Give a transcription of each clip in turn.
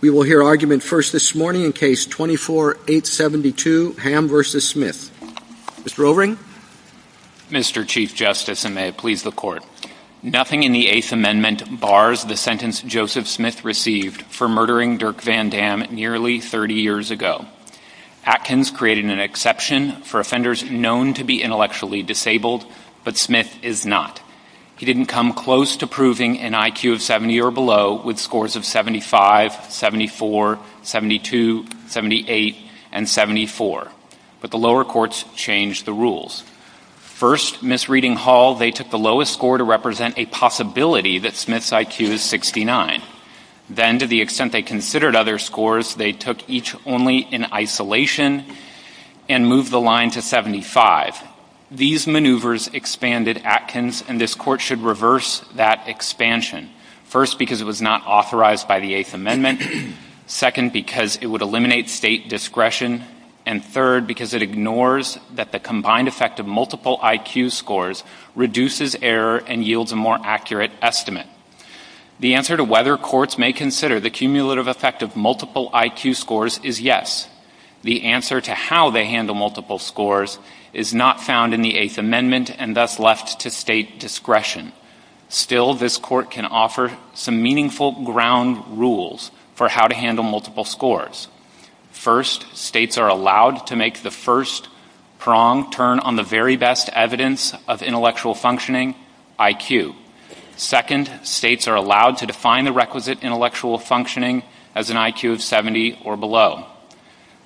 We will hear argument first this morning in Case 24-872, Ham v. Smith. Mr. O'Rourke. Mr. Chief Justice, and may it please the Court. Nothing in the Eighth Amendment bars the sentence Joseph Smith received for murdering Dirk Van Dam nearly 30 years ago. Atkins created an exception for offenders known to be intellectually disabled, but Smith is not. He didn't come close to proving an IQ of 70 or below with scores of 75, 74, 72, 78, and 74. But the lower courts changed the rules. First, Miss Reading Hall, they took the lowest score to represent a possibility that Smith's IQ is 69. Then, to the extent they considered other scores, they took each only in isolation and moved the line to 75. Second, these maneuvers expanded Atkins, and this Court should reverse that expansion. First, because it was not authorized by the Eighth Amendment. Second, because it would eliminate state discretion. And third, because it ignores that the combined effect of multiple IQ scores reduces error and yields a more accurate estimate. The answer to whether courts may consider the cumulative effect of multiple IQ scores is yes. The answer to how they handle multiple scores is not found in the Eighth Amendment and thus left to state discretion. Still, this Court can offer some meaningful ground rules for how to handle multiple scores. First, states are allowed to make the first prong turn on the very best evidence of intellectual functioning, IQ. Second, states are allowed to define the requisite intellectual functioning as an IQ of 70 or below.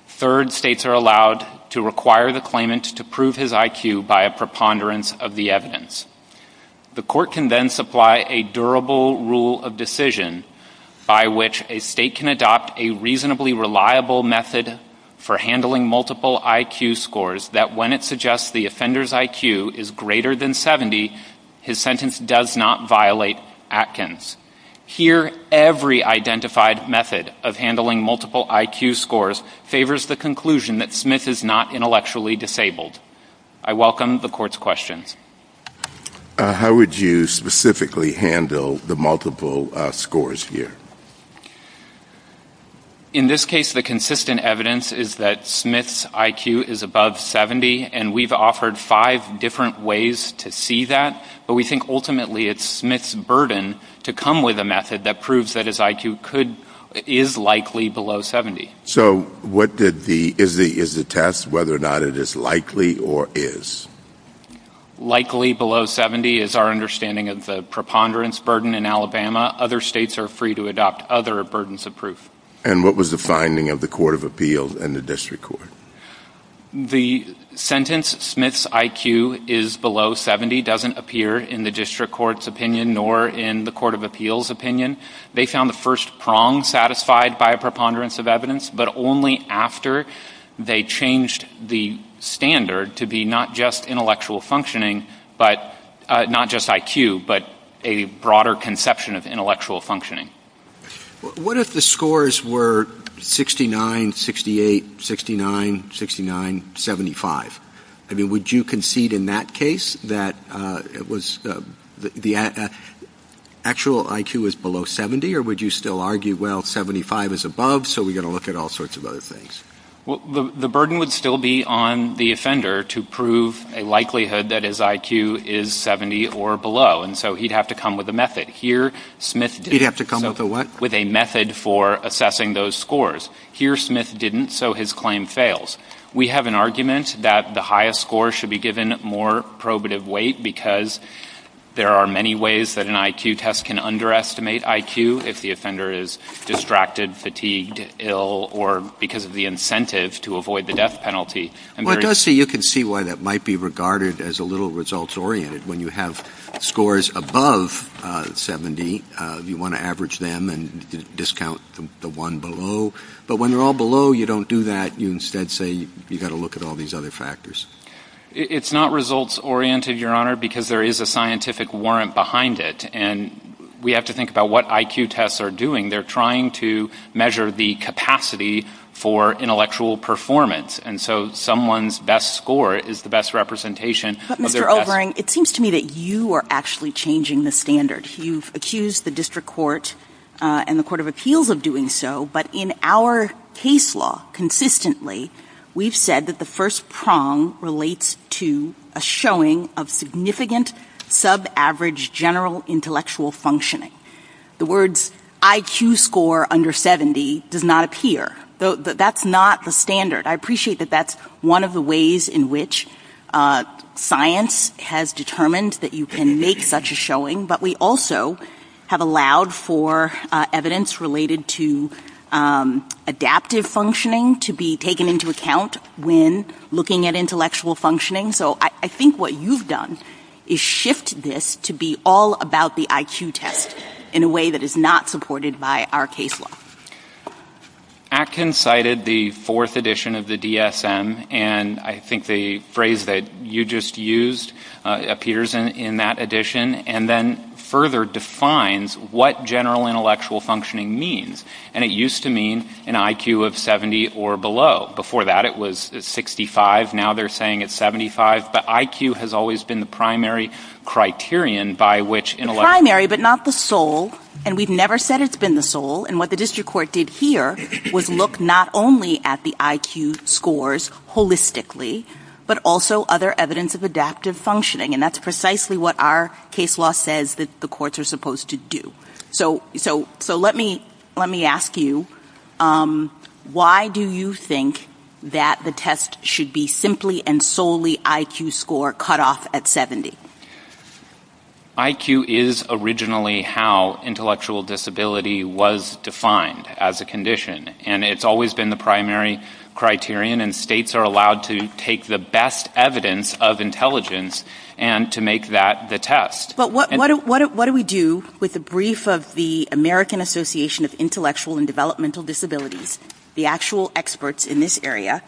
Third, states are allowed to require the claimant to prove his IQ by a preponderance of the evidence. The Court can then supply a durable rule of decision by which a state can adopt a reasonably reliable method for handling multiple IQ scores that when it suggests the offender's IQ is greater than 70, his sentence does not violate Atkins. Here, every identified method of handling multiple IQ scores favors the conclusion that Smith is not intellectually disabled. I welcome the Court's questions. How would you specifically handle the multiple scores here? In this case, the consistent evidence is that Smith's IQ is above 70, and we've offered five different ways to see that, but we think ultimately it's Smith's burden to come with a method that proves that his IQ is likely below 70. So is the test whether or not it is likely or is? Likely below 70 is our understanding of the preponderance burden in Alabama. Other states are free to adopt other burdens of proof. And what was the finding of the Court of Appeals and the District Court? The sentence, Smith's IQ is below 70, doesn't appear in the District Court's opinion nor in the Court of Appeals' opinion. They found the first prong satisfied by a preponderance of evidence, but only after they changed the standard to be not just intellectual functioning, not just IQ, but a broader conception of intellectual functioning. What if the scores were 69, 68, 69, 69, 75? I mean, would you concede in that case that the actual IQ is below 70, or would you still argue, well, 75 is above, so we've got to look at all sorts of other things? Well, the burden would still be on the offender to prove a likelihood that his IQ is 70 or below, and so he'd have to come with a method. He'd have to come with a what? With a method for assessing those scores. Here, Smith didn't, so his claim fails. We have an argument that the highest score should be given more probative weight because there are many ways that an IQ test can underestimate IQ, if the offender is distracted, fatigued, ill, or because of the incentive to avoid the death penalty. Well, it does say you can see why that might be regarded as a little results-oriented. When you have scores above 70, you want to average them and discount the one below, but when they're all below, you don't do that. You instead say you've got to look at all these other factors. It's not results-oriented, Your Honor, because there is a scientific warrant behind it, and we have to think about what IQ tests are doing. They're trying to measure the capacity for intellectual performance, and so someone's best score is the best representation of their test. But, Mr. Overing, it seems to me that you are actually changing the standard. You've accused the District Court and the Court of Appeals of doing so, but in our case law, consistently, we've said that the first prong relates to a showing of significant sub-average general intellectual functioning. The words IQ score under 70 does not appear. That's not the standard. I appreciate that that's one of the ways in which science has determined that you can make such a showing, but we also have allowed for evidence related to adaptive functioning to be taken into account when looking at intellectual functioning, so I think what you've done is shift this to be all about the IQ test in a way that is not supported by our case law. Atkins cited the fourth edition of the DSM, and I think the phrase that you just used appears in that edition, and then further defines what general intellectual functioning means, and it used to mean an IQ of 70 or below. Before that, it was 65. Now they're saying it's 75, but IQ has always been the primary criterion by which intellectual function... The primary, but not the sole, and we've never said it's been the sole, and what the District Court did here was look not only at the IQ scores holistically, but also other evidence of adaptive functioning, and that's precisely what our case law says that the courts are supposed to do. So let me ask you, why do you think that the test should be simply and solely IQ score cut off at 70? IQ is originally how intellectual disability was defined as a condition, and it's always been the primary criterion, and states are allowed to take the best evidence of intelligence and to make that the test. What do we do with the brief of the American Association of Intellectual and Developmental Disabilities, the actual experts in this area,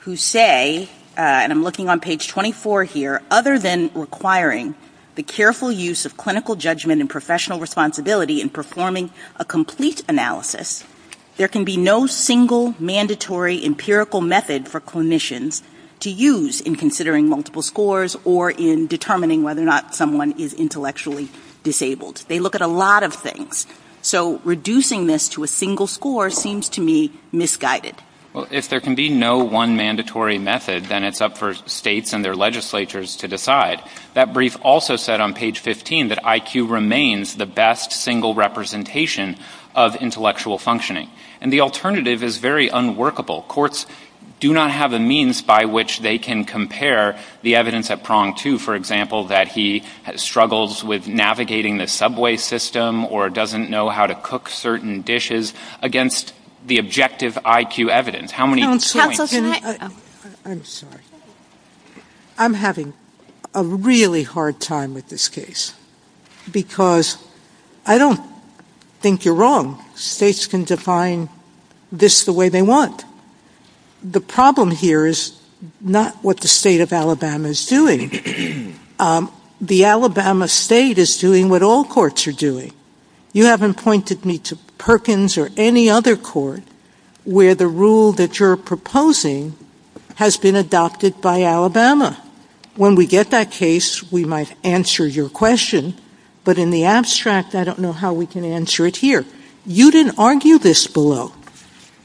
who say, and I'm looking on page 24 here, other than requiring the careful use of clinical judgment and professional responsibility in performing a complete analysis, there can be no single mandatory empirical method for clinicians to use in considering multiple scores or in determining whether or not someone is intellectually disabled. They look at a lot of things. So reducing this to a single score seems to me misguided. Well, if there can be no one mandatory method, then it's up for states and their legislatures to decide. That brief also said on page 15 that IQ remains the best single representation of intellectual functioning. And the alternative is very unworkable. Courts do not have a means by which they can compare the evidence at prong two, for example, that he struggles with navigating the subway system or doesn't know how to cook certain dishes against the objective IQ evidence. I'm sorry. I'm having a really hard time with this case. Because I don't think you're wrong. States can define this the way they want. The problem here is not what the state of Alabama is doing. The Alabama state is doing what all courts are doing. You haven't pointed me to Perkins or any other court where the rule that you're proposing has been adopted by Alabama. When we get that case, we might answer your question. But in the abstract, I don't know how we can answer it here. You didn't argue this below.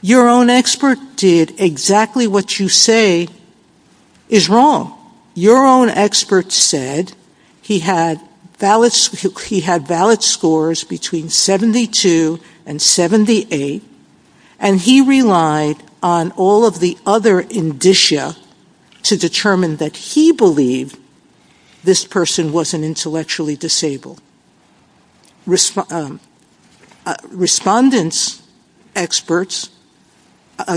Your own expert did exactly what you say is wrong. So, your own expert said he had valid scores between 72 and 78. And he relied on all of the other indicia to determine that he believed this person wasn't intellectually disabled. I'm sorry. Respondents experts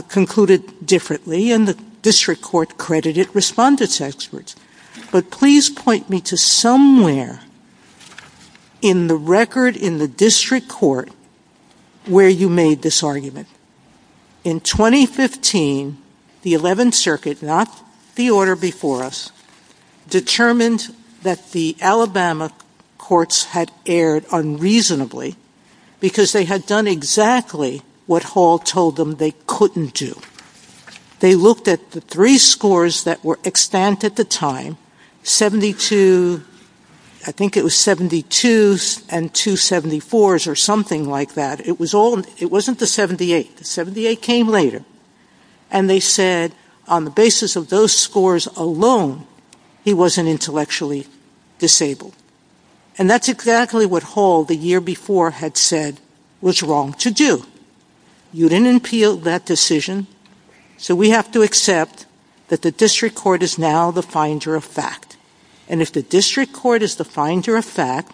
concluded differently, and the district court credited respondents experts. But please point me to somewhere in the record in the district court where you made this argument. In 2015, the 11th Circuit, not the order before us, determined that the Alabama courts had erred unreasonably. Because they had done exactly what Hall told them they couldn't do. They looked at the three scores that were expanded at the time. And they said, I think it was 72 and 274 or something like that. It wasn't the 78. The 78 came later. And they said, on the basis of those scores alone, he wasn't intellectually disabled. And that's exactly what Hall, the year before, had said was wrong to do. So, we have to accept that the district court is now the finder of fact. And if the district court is the finder of fact,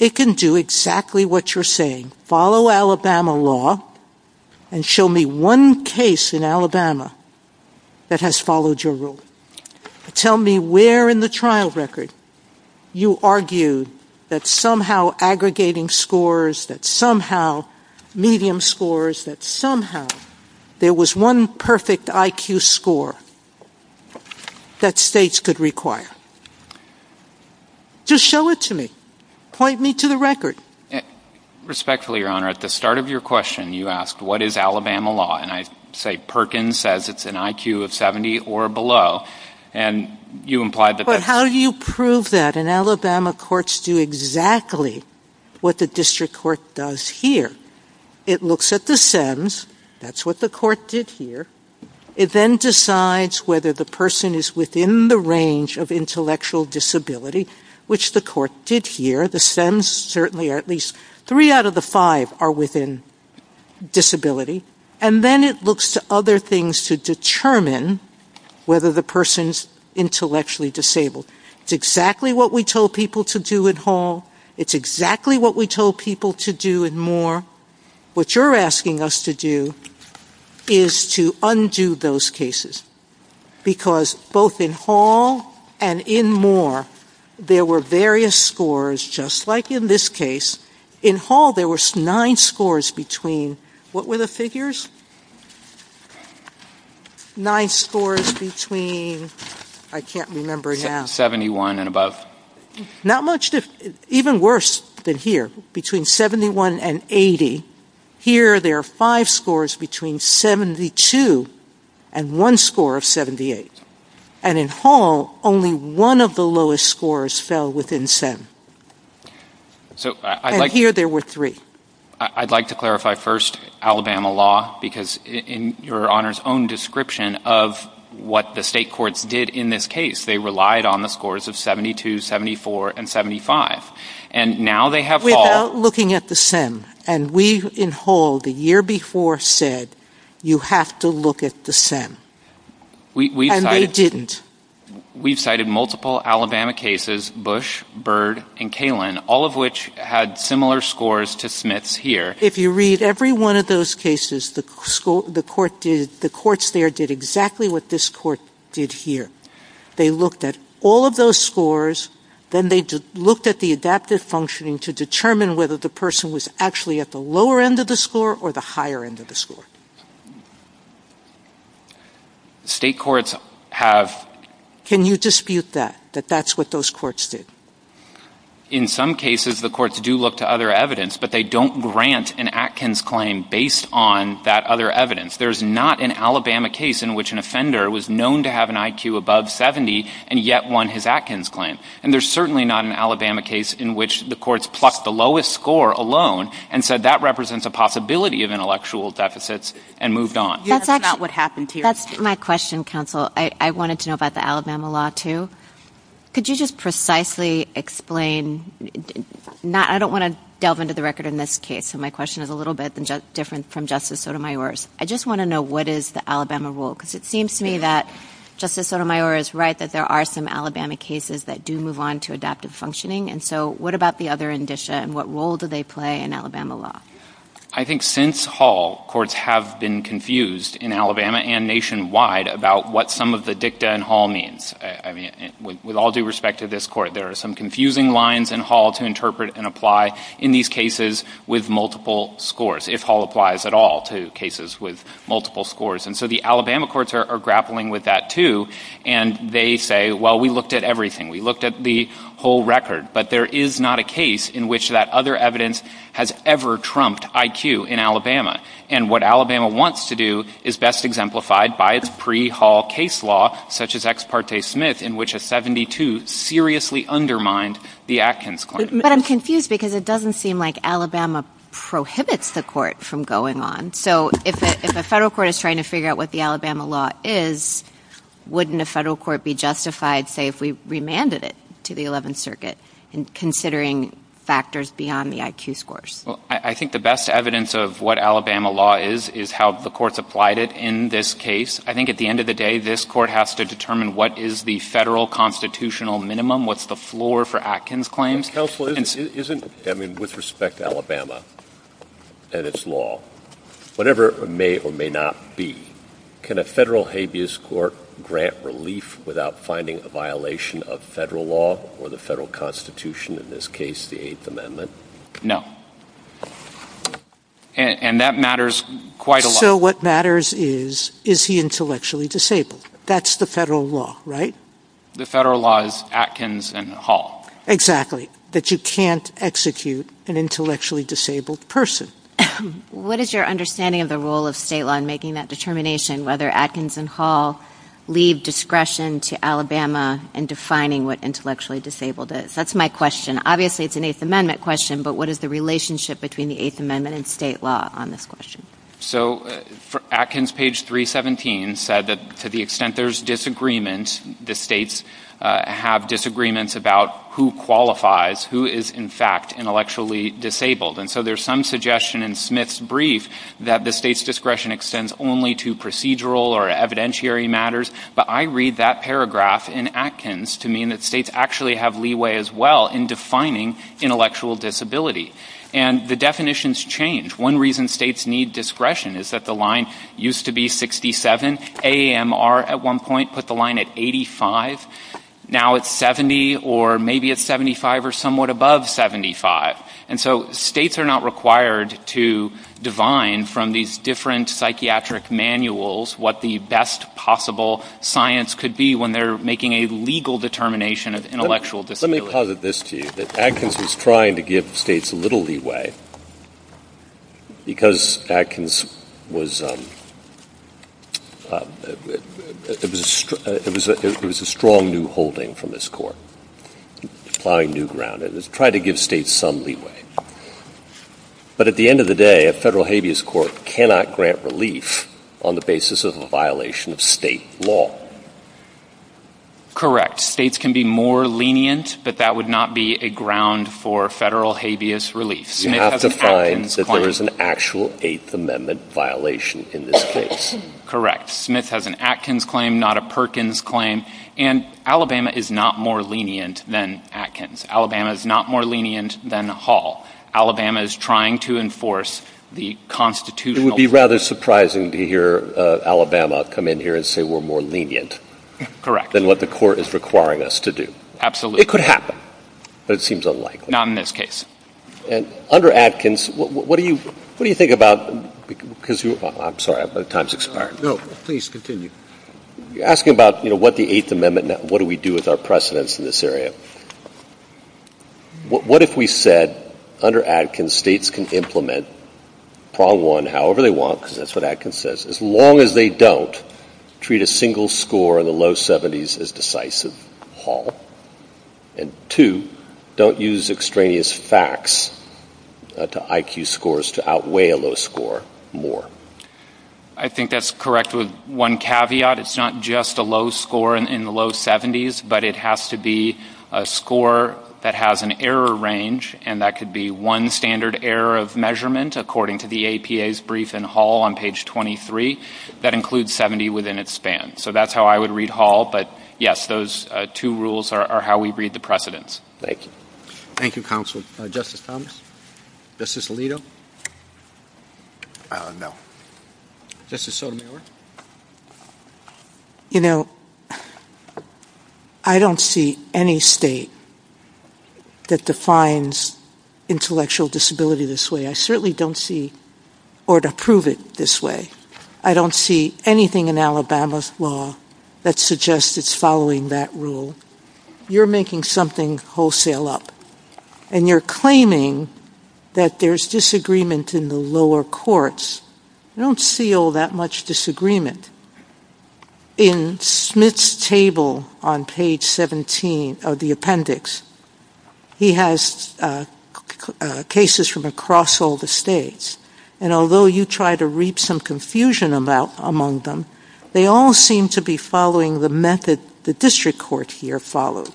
it can do exactly what you're saying. Follow Alabama law, and show me one case in Alabama that has followed your rule. Tell me where in the trial record you argued that somehow aggregating scores, that somehow medium scores, that somehow there was one perfect IQ score that states could require. Just show it to me. Point me to the record. Respectfully, Your Honor, at the start of your question, you asked, what is Alabama law? And I say Perkins says it's an IQ of 70 or below. And you implied that... But how do you prove that? And Alabama courts do exactly what the district court does here. It looks at the SEMs. That's what the court did here. It then decides whether the person is within the range of intellectual disability, which the court did here. The SEMs certainly are at least three out of the five are within disability. And then it looks to other things to determine whether the person is intellectually disabled. It's exactly what we told people to do in Hall. It's exactly what we told people to do in Moore. What you're asking us to do is to undo those cases. Because both in Hall and in Moore, there were various scores, just like in this case. In Hall, there were nine scores between... What were the figures? Nine scores between... I can't remember now. 71 and above. Not much. Even worse than here. Between 71 and 80. Here, there are five scores between 72 and one score of 78. And in Hall, only one of the lowest scores fell within SEM. And here, there were three. I'd like to clarify first Alabama law, because in your Honor's own description of what the state courts did in this case, they relied on the scores of 72, 74, and 75. And now they have Hall... Without looking at the SEM. And we, in Hall, the year before said, you have to look at the SEM. And they didn't. We cited multiple Alabama cases, Bush, Bird, and Kalin, all of which had similar scores to Smith's here. If you read every one of those cases, the courts there did exactly what this court did here. They looked at all of those scores, then they looked at the adaptive functioning to determine whether the person was actually at the lower end of the score or the higher end of the score. State courts have... Can you dispute that, that that's what those courts did? In some cases, the courts do look to other evidence, but they don't grant an Atkins claim based on that other evidence. There's not an Alabama case in which an offender was known to have an IQ above 70 and yet won his Atkins claim. And there's certainly not an Alabama case in which the courts plucked the lowest score alone and said that represents a possibility of intellectual deficits and moved on. That's my question, counsel. I wanted to know about the Alabama law, too. Could you just precisely explain... I don't want to delve into the record in this case, so my question is a little bit different from Justice Sotomayor's. I just want to know what is the Alabama rule? Because it seems to me that Justice Sotomayor is right that there are some Alabama cases that do move on to adaptive functioning. And so what about the other indicia and what role do they play in Alabama law? I think since Hall, courts have been confused in Alabama and nationwide about what some of the dicta in Hall means. With all due respect to this court, there are some confusing lines in Hall to interpret and apply in these cases with multiple scores, if Hall applies at all to cases with multiple scores. And so the Alabama courts are grappling with that, too, and they say, well, we looked at everything. We looked at the whole record, but there is not a case in which that other evidence has ever trumped IQ in Alabama. And what Alabama wants to do is best exemplified by its pre-Hall case law, such as Ex parte Smith, in which a 72 seriously undermined the Atkins claim. But I'm confused because it doesn't seem like Alabama prohibits the court from going on. So if a federal court is trying to figure out what the Alabama law is, wouldn't a federal court be justified, say, if we remanded it to the 11th Circuit, considering factors beyond the IQ scores? I think the best evidence of what Alabama law is is how the courts applied it in this case. I think at the end of the day, this court has to determine what is the federal constitutional minimum, what's the floor for Atkins claims. Counsel, with respect to Alabama and its law, whatever it may or may not be, can a federal habeas court grant relief without finding a violation of federal law or the federal constitution, in this case the Eighth Amendment? No. And that matters quite a lot. So what matters is, is he intellectually disabled? That's the federal law, right? The federal law is Atkins and Hall. Exactly. That you can't execute an intellectually disabled person. What is your understanding of the role of state law in making that determination, whether Atkins and Hall leave discretion to Alabama in defining what intellectually disabled is? That's my question. Obviously, it's an Eighth Amendment question, but what is the relationship between the Eighth Amendment and state law on this question? So Atkins, page 317, said that to the extent there's disagreements, the states have disagreements about who qualifies, who is, in fact, intellectually disabled. And so there's some suggestion in Smith's brief that the state's discretion extends only to procedural or evidentiary matters, but I read that paragraph in Atkins to mean that states actually have leeway as well in defining intellectual disability. And the definitions change. One reason states need discretion is that the line used to be 67. AAMR at one point put the line at 85. Now it's 70, or maybe it's 75 or somewhat above 75. And so states are not required to divine from these different psychiatric manuals what the best possible science could be when they're making a legal determination of intellectual disability. Let me posit this to you, that Atkins is trying to give states a little leeway because Atkins was a strong new holding from this court, applying new ground. It's trying to give states some leeway. But at the end of the day, a federal habeas court cannot grant relief on the basis of a violation of state law. States can be more lenient, but that would not be a ground for federal habeas relief. You have to find that there is an actual Eighth Amendment violation in this case. Correct. Smith has an Atkins claim, not a Perkins claim. And Alabama is not more lenient than Atkins. Alabama is not more lenient than Hall. Alabama is trying to enforce the constitutional... It would be rather surprising to hear Alabama come in here and say we're more lenient... ...than what the court is requiring us to do. Absolutely. It could happen, but it seems unlikely. Not in this case. And under Atkins, what do you think about... I'm sorry, my time's expired. No, please continue. You're asking about what the Eighth Amendment... What do we do with our precedents in this area? What if we said under Atkins, states can implement while one, however they want, because that's what Atkins says, as long as they don't treat a single score in the low 70s as decisive, Hall. And two, don't use extraneous facts to IQ scores to outweigh a low score more. I think that's correct with one caveat. It's not just a low score in the low 70s, but it has to be a score that has an error range, and that could be one standard error of measurement, according to the APA's brief in Hall on page 23, that includes 70 within its span. So that's how I would read Hall, but yes, those two rules are how we read the precedents. Thank you. Thank you, counsel. Justice Thomas? Justice Alito? No. Justice Sotomayor? You know, I don't see any state that defines intellectual disability this way. I certainly don't see, or to prove it this way, I don't see anything in Alabama's law that suggests it's following that rule. You're making something wholesale up, and you're claiming that there's disagreement in the lower courts. I don't see all that much disagreement. In Smith's table on page 17 of the appendix, he has cases from across all the states, and although you try to reap some confusion among them, they all seem to be following the method the district court here followed.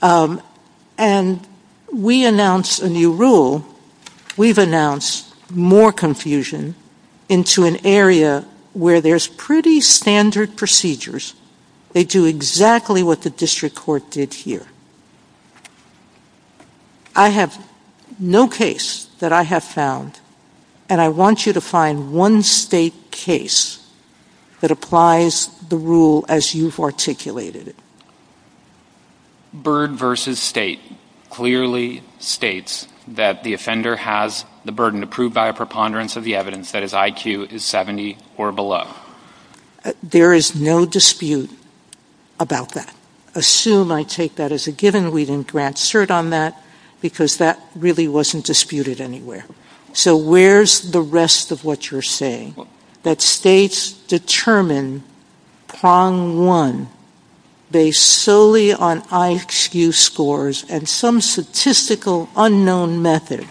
And we announced a new rule. And so we've announced more confusion into an area where there's pretty standard procedures. They do exactly what the district court did here. I have no case that I have found, and I want you to find one state case that applies the rule as you've articulated it. Byrd v. State clearly states that the offender has the burden to prove by a preponderance of the evidence that his IQ is 70 or below. There is no dispute about that. Assume I take that as a given. We didn't grant cert on that because that really wasn't disputed anywhere. So where's the rest of what you're saying? Assume that states determine prong one based solely on IQ scores and some statistical unknown method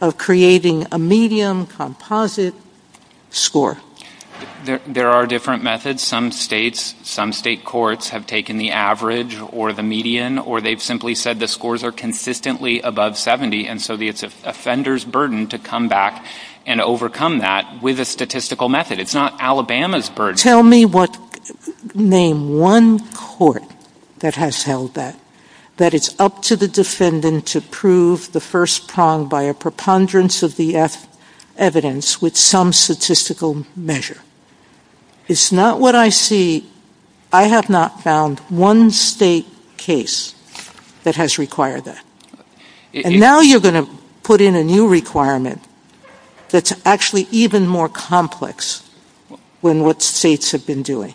of creating a medium composite score. There are different methods. Some states, some state courts have taken the average or the median, or they've simply said the scores are consistently above 70 and so it's the offender's burden to come back and overcome that with a statistical method. It's not Alabama's burden. Name one court that has held that. That it's up to the defendant to prove the first prong by a preponderance of the evidence with some statistical measure. It's not what I see. I have not found one state case that has required that. And now you're going to put in a new requirement that's actually even more complex than what states have been doing.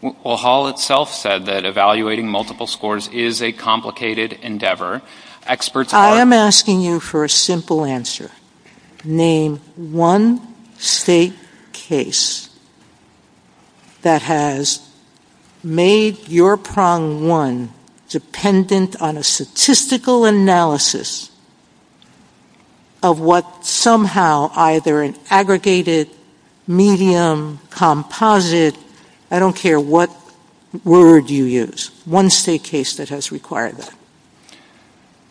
Well, Hall itself said that evaluating multiple scores is a complicated endeavor. I am asking you for a simple answer. Name one state case that has made your prong one dependent on a statistical analysis of what somehow either an aggregated medium composite, I don't care what word you use, one state case that has required that.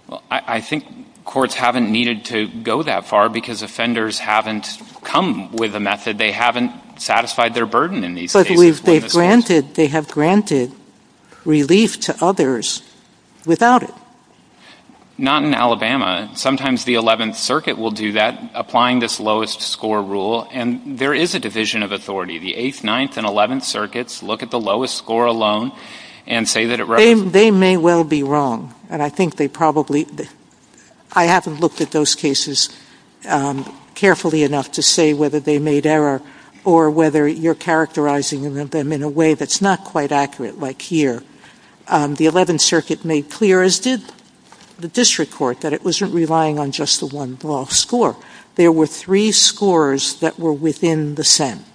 Well, I think courts haven't needed to go that far because offenders haven't come with a method. They haven't satisfied their burden in these cases. But they have granted relief to others without it. Not in Alabama. Sometimes the 11th Circuit will do that, applying this lowest score rule. And there is a division of authority. The 8th, 9th, and 11th Circuits look at the lowest score alone and say that it represents... They may well be wrong. And I think they probably... I haven't looked at those cases carefully enough to say whether they made error or whether you're characterizing them in a way that's not quite accurate, like here. The 11th Circuit made clear, as did the district court, that it wasn't relying on just the one low score. There were three scores that were within the SEM.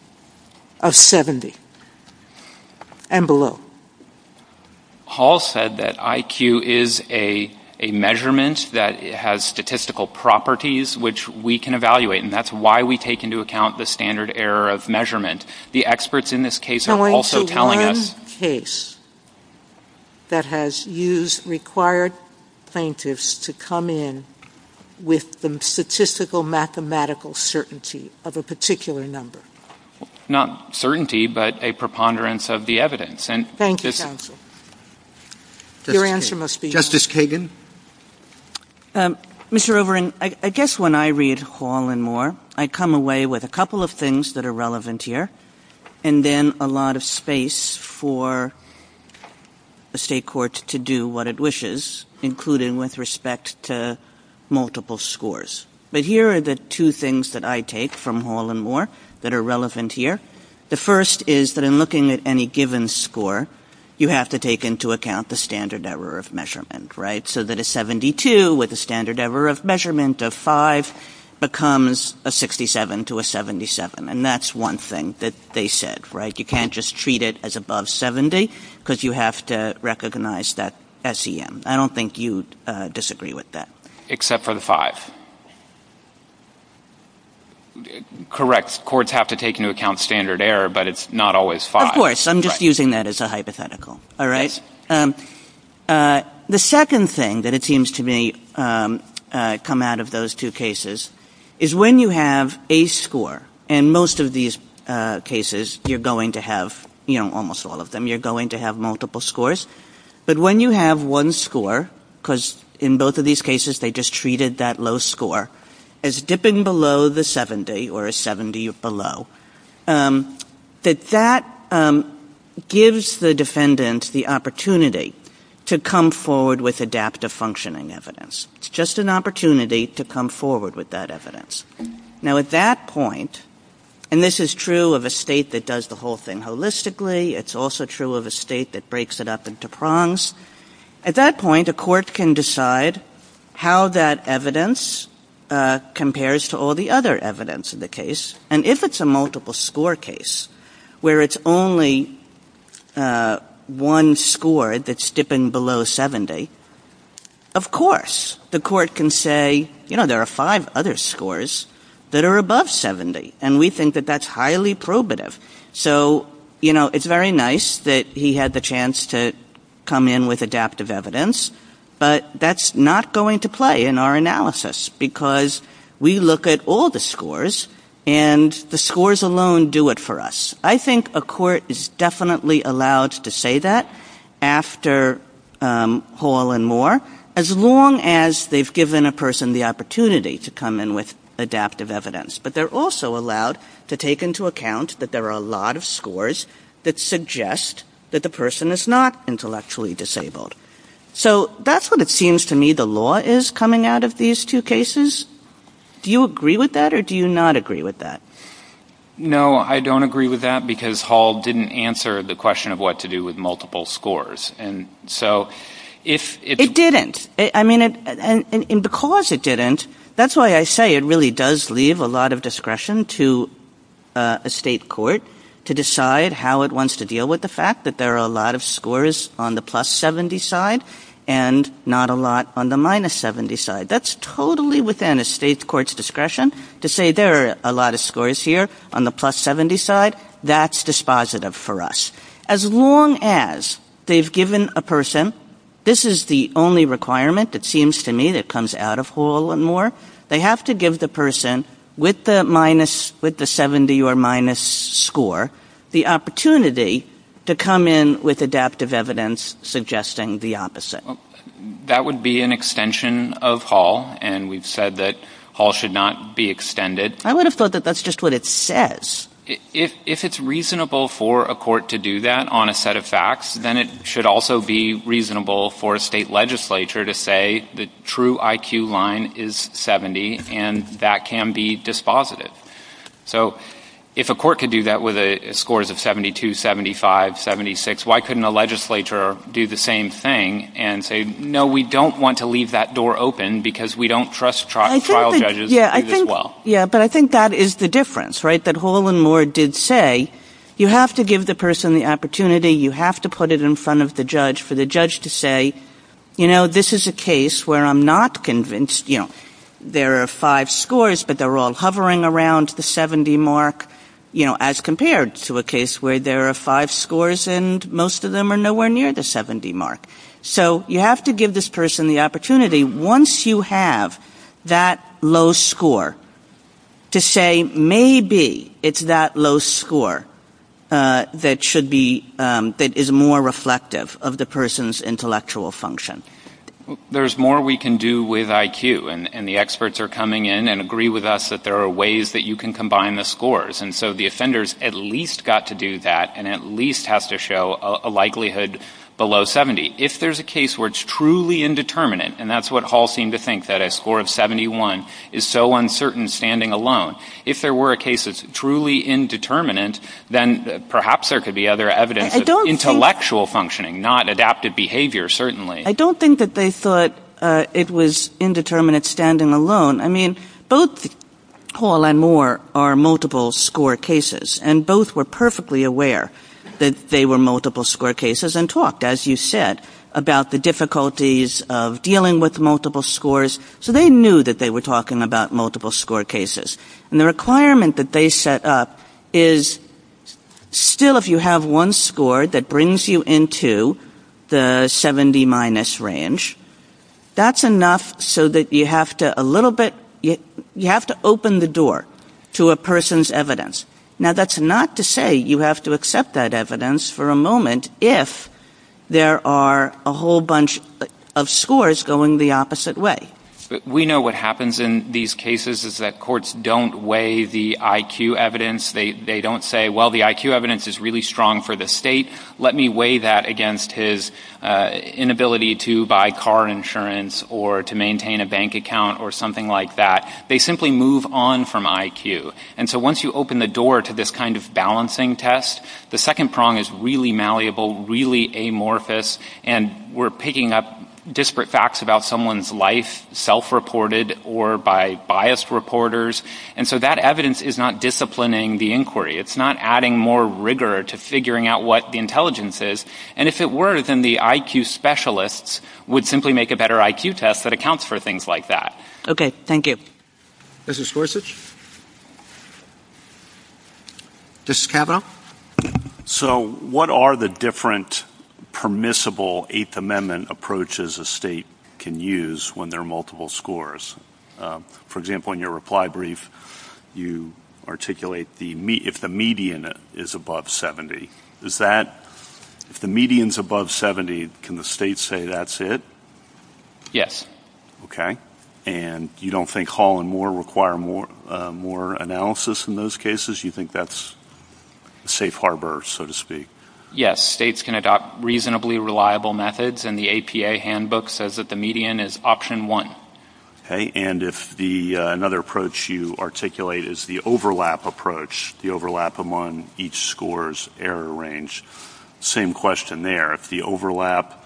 Of 70. And below. Paul said that IQ is a measurement that has statistical properties, which we can evaluate. And that's why we take into account the standard error of measurement. The experts in this case are also telling us... So it's one case that has used required plaintiffs to come in with the statistical mathematical certainty of a particular number. Not certainty, but a preponderance of the evidence. Thank you, counsel. Your answer must be... Justice Kagan? Mr. Rovarin, I guess when I read Hall and Moore, I come away with a couple of things that are relevant here. And then a lot of space for a state court to do what it wishes, including with respect to multiple scores. But here are the two things that I take from Hall and Moore that are relevant here. The first is that in looking at any given score, you have to take into account the standard error of measurement, right? So that a 72 with a standard error of measurement of 5 becomes a 67 to a 77. And that's one thing that they said, right? You can't just treat it as above 70 because you have to recognize that SEM. I don't think you'd disagree with that. Except for the 5. Correct. Courts have to take into account standard error, but it's not always 5. Of course. I'm just using that as a hypothetical, all right? The second thing that it seems to me come out of those two cases is when you have a score, and most of these cases you're going to have, you know, almost all of them, you're going to have multiple scores. But when you have one score, because in both of these cases they just treated that low score as dipping below the 70 or a 70 or below, that that gives the defendant the opportunity to come forward with adaptive functioning evidence. It's just an opportunity to come forward with that evidence. Now, at that point, and this is true of a state that does the whole thing holistically. It's also true of a state that breaks it up into prongs. At that point, a court can decide how that evidence compares to all the other evidence in the case. And if it's a multiple score case where it's only one score that's dipping below 70, of course the court can say, you know, there are five other scores that are above 70, and we think that that's highly probative. So, you know, it's very nice that he had the chance to come in with adaptive evidence, but that's not going to play in our analysis because we look at all the scores and the scores alone do it for us. I think a court is definitely allowed to say that after Hall and Moore, as long as they've given a person the opportunity to come in with adaptive evidence. But they're also allowed to take into account that there are a lot of scores that suggest that the person is not intellectually disabled. So that's what it seems to me the law is coming out of these two cases. Do you agree with that or do you not agree with that? No, I don't agree with that because Hall didn't answer the question of what to do with multiple scores. And so if... It didn't. I mean, and because it didn't, that's why I say it really does leave a lot of discretion to a state court to decide how it wants to deal with the fact that there are a lot of scores on the plus 70 side and not a lot on the minus 70 side. That's totally within a state court's discretion to say there are a lot of scores here on the plus 70 side. That's dispositive for us. As long as they've given a person... This is the only requirement, it seems to me, that comes out of Hall and Moore. They have to give the person with the minus... with the 70 or minus score the opportunity to come in with adaptive evidence suggesting the opposite. That would be an extension of Hall, and we've said that Hall should not be extended. I would have thought that that's just what it says. If it's reasonable for a court to do that on a set of facts, then it should also be reasonable for a state legislature to say the true IQ line is 70, and that can be dispositive. So if a court could do that with scores of 72, 75, 76, why couldn't a legislature do the same thing and say, no, we don't want to leave that door open because we don't trust trial judges as well? Yeah, but I think that is the difference, right, that Hall and Moore did say you have to give the person the opportunity, you have to put it in front of the judge for the judge to say, you know, this is a case where I'm not convinced. You know, there are five scores, but they're all hovering around the 70 mark, you know, as compared to a case where there are five scores and most of them are nowhere near the 70 mark. So you have to give this person the opportunity, once you have that low score, to say maybe it's that low score that should be, that is more reflective of the person's intellectual function. There's more we can do with IQ, and the experts are coming in and agree with us that there are ways that you can combine the scores, and so the offenders at least got to do that and at least have to show a likelihood below 70. If there's a case where it's truly indeterminate, and that's what Hall seemed to think, that a score of 71 is so uncertain standing alone. If there were a case that's truly indeterminate, then perhaps there could be other evidence of intellectual functioning, not adaptive behavior, certainly. I don't think that they thought it was indeterminate standing alone. I mean, both Hall and Moore are multiple score cases, and both were perfectly aware that they were multiple score cases and talked, as you said, about the difficulties of dealing with multiple scores, so they knew that they were talking about multiple score cases. And the requirement that they set up is still if you have one score that brings you into the 70 minus range, that's enough so that you have to a little bit, you have to open the door to a person's evidence. Now, that's not to say you have to accept that evidence for a moment if there are a whole bunch of scores going the opposite way. We know what happens in these cases is that courts don't weigh the IQ evidence. They don't say, well, the IQ evidence is really strong for the state. Let me weigh that against his inability to buy car insurance or to maintain a bank account or something like that. They simply move on from IQ. And so once you open the door to this kind of balancing test, the second prong is really malleable, really amorphous, and we're picking up disparate facts about someone's life, self-reported or by biased reporters. And so that evidence is not disciplining the inquiry. It's not adding more rigor to figuring out what the intelligence is. And if it were, then the IQ specialists would simply make a better IQ test that accounts for things like that. Okay, thank you. Mrs. Gorsuch? Mrs. Kato? So what are the different permissible Eighth Amendment approaches a state can use when there are multiple scores? For example, in your reply brief, you articulate if the median is above 70. Is that...if the median's above 70, can the state say that's it? Yes. Okay. And you don't think Hall and Moore require more analysis in those cases? You think that's a safe harbor, so to speak? Yes. States can adopt reasonably reliable methods, and the APA handbook says that the median is option one. Okay. And if another approach you articulate is the overlap approach, the overlap among each score's error range, same question there. If the overlap...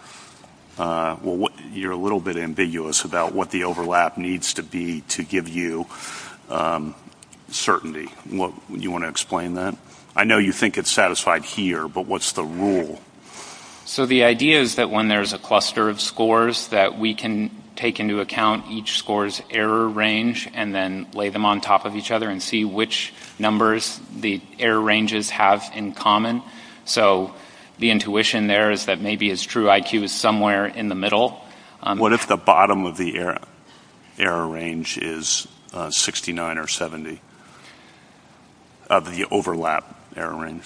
Well, you're a little bit ambiguous about what the overlap needs to be to give you certainty. You want to explain that? I know you think it's satisfied here, but what's the rule? So the idea is that when there's a cluster of scores that we can take into account each score's error range and then lay them on top of each other and see which numbers the error ranges have in common. So the intuition there is that maybe it's true IQ is somewhere in the middle. What if the bottom of the error range is 69 or 70 of the overlap error range?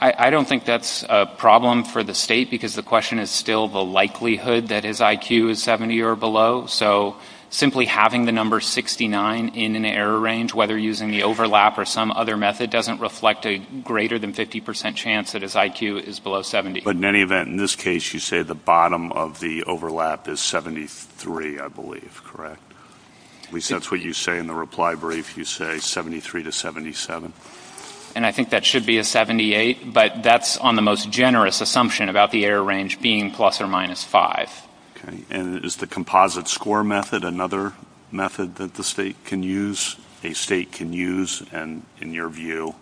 I don't think that's a problem for the state because the question is still the likelihood that his IQ is 70 or below. So simply having the number 69 in an error range, whether using the overlap or some other method, doesn't reflect a greater than 50% chance that his IQ is below 70. But in any event, in this case you say the bottom of the overlap is 73, I believe, correct? At least that's what you say in the reply brief. You say 73 to 77. And I think that should be a 78, but that's on the most generous assumption about the error range being plus or minus 5. And is the composite score method another method that the state can use? A state can use and, in your view,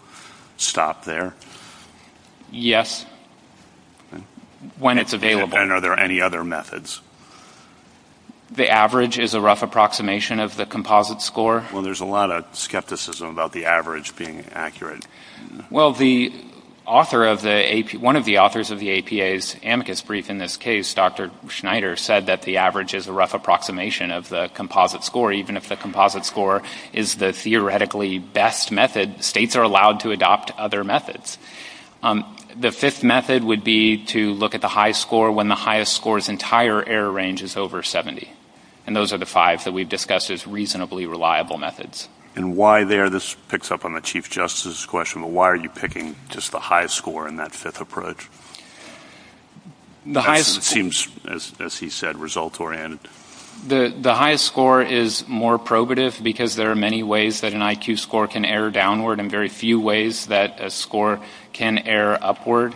stop there? Yes, when it's available. And are there any other methods? The average is a rough approximation of the composite score. Well, there's a lot of skepticism about the average being accurate. Well, one of the authors of the APA's amicus brief in this case, Dr. Schneider, said that the average is a rough approximation of the composite score even if the composite score is the theoretically best method. States are allowed to adopt other methods. The fifth method would be to look at the high score when the highest score's entire error range is over 70. And those are the five that we've discussed as reasonably reliable methods. And why there? This picks up on the Chief Justice's question, but why are you picking just the highest score in that fifth approach? It seems, as he said, results-oriented. The highest score is more probative because there are many ways that an IQ score can err downward and very few ways that a score can err upward.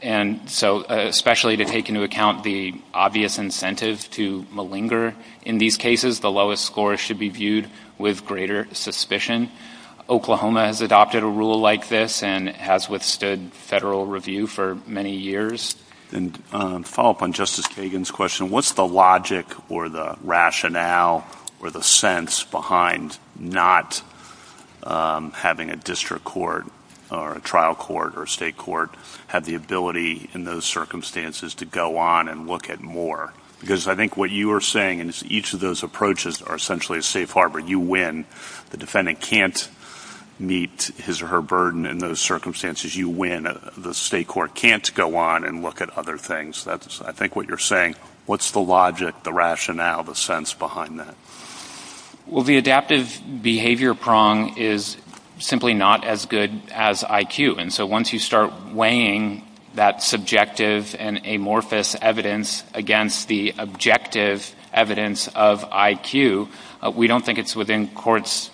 And so, especially to take into account the obvious incentives to malinger in these cases, the lowest score should be viewed with greater suspicion. Oklahoma has adopted a rule like this and has withstood federal review for many years. And to follow up on Justice Kagan's question, what's the logic or the rationale or the sense behind not having a district court or a trial court or a state court have the ability in those circumstances to go on and look at more? Because I think what you are saying is each of those approaches are essentially a safe harbor. You win. The defendant can't meet his or her burden in those circumstances. You win. The state court can't go on and look at other things. That's, I think, what you're saying. What's the logic, the rationale, the sense behind that? Well, the adaptive behavior prong is simply not as good as IQ. And so once you start weighing that subjective and amorphous evidence against the objective evidence of IQ, we don't think it's within courts'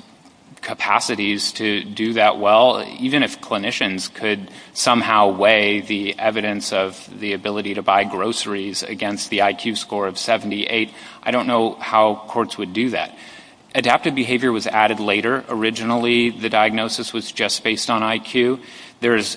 capacities to do that well. Even if clinicians could somehow weigh the evidence of the ability to buy groceries against the IQ score of 78, I don't know how courts would do that. Adaptive behavior was added later. Originally, the diagnosis was just based on IQ. There's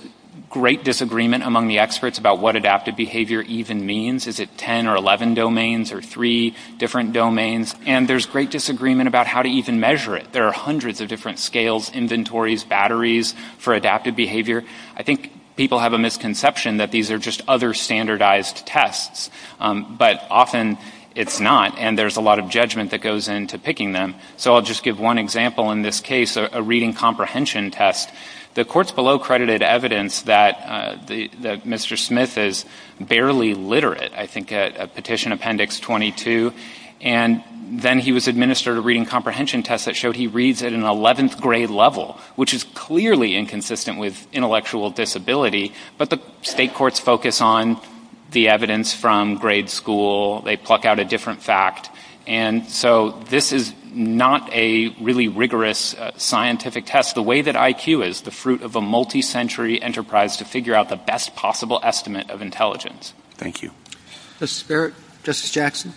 great disagreement among the experts about what adaptive behavior even means. Is it 10 or 11 domains or three different domains? And there's great disagreement about how to even measure it. There are hundreds of different scales, inventories, batteries for adaptive behavior. I think people have a misconception that these are just other standardized tests. But often it's not, and there's a lot of judgment that goes into picking them. So I'll just give one example in this case, a reading comprehension test. The courts below credited evidence that Mr. Smith is barely literate, I think, at Petition Appendix 22. And then he was administered a reading comprehension test that showed he reads at an 11th grade level, which is clearly inconsistent with intellectual disability. But the state courts focus on the evidence from grade school. They pluck out a different fact. And so this is not a really rigorous scientific test. The way that IQ is, the fruit of a multi-century enterprise to figure out the best possible estimate of intelligence. Thank you. Justice Barrett? Justice Jackson?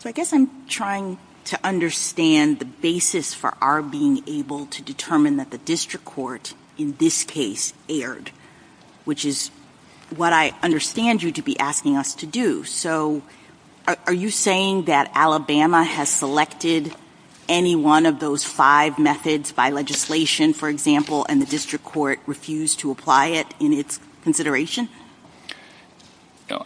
So I guess I'm trying to understand the basis for our being able to determine that the district court in this case erred, which is what I understand you to be asking us to do. So are you saying that Alabama has selected any one of those five methods by legislation, for example, and the district court refused to apply it in its consideration?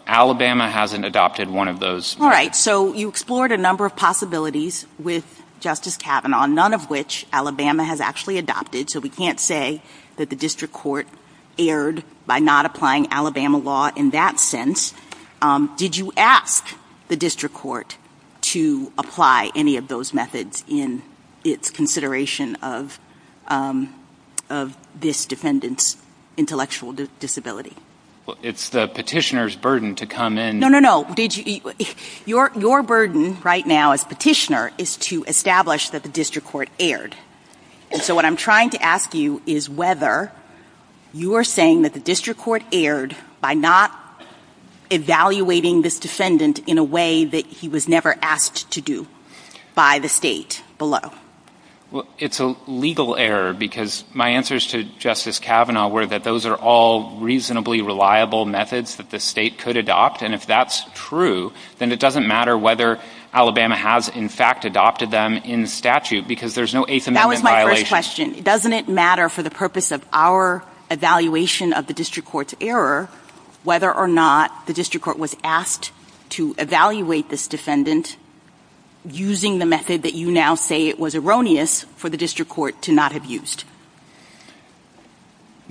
Alabama hasn't adopted one of those. All right. So you explored a number of possibilities with Justice Kavanaugh, none of which Alabama has actually adopted. So we can't say that the district court erred by not applying Alabama law in that sense. Did you ask the district court to apply any of those methods in its consideration of this defendant's intellectual disability? It's the petitioner's burden to come in. No, no, no. Your burden right now as petitioner is to establish that the district court erred. And so what I'm trying to ask you is whether you are saying that the district court erred by not evaluating this defendant in a way that he was never asked to do by the state below. Well, it's a legal error because my answers to Justice Kavanaugh were that those are all reasonably reliable methods that the state could adopt, and if that's true, then it doesn't matter whether Alabama has, in fact, adopted them in statute because there's no Eighth Amendment violation. That was my first question. Doesn't it matter for the purpose of our evaluation of the district court's error whether or not the district court was asked to evaluate this defendant using the method that you now say it was erroneous for the district court to not have used?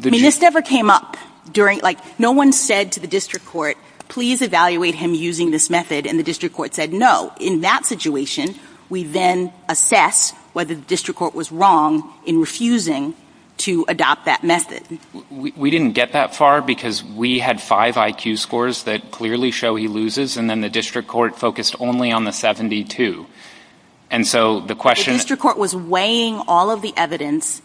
I mean, this never came up. Like, no one said to the district court, please evaluate him using this method, and the district court said no. In that situation, we then assess whether the district court was wrong in refusing to adopt that method. We didn't get that far because we had five IQ scores that clearly show he loses, and then the district court focused only on the 72. And so the question... If the district court was weighing all of the evidence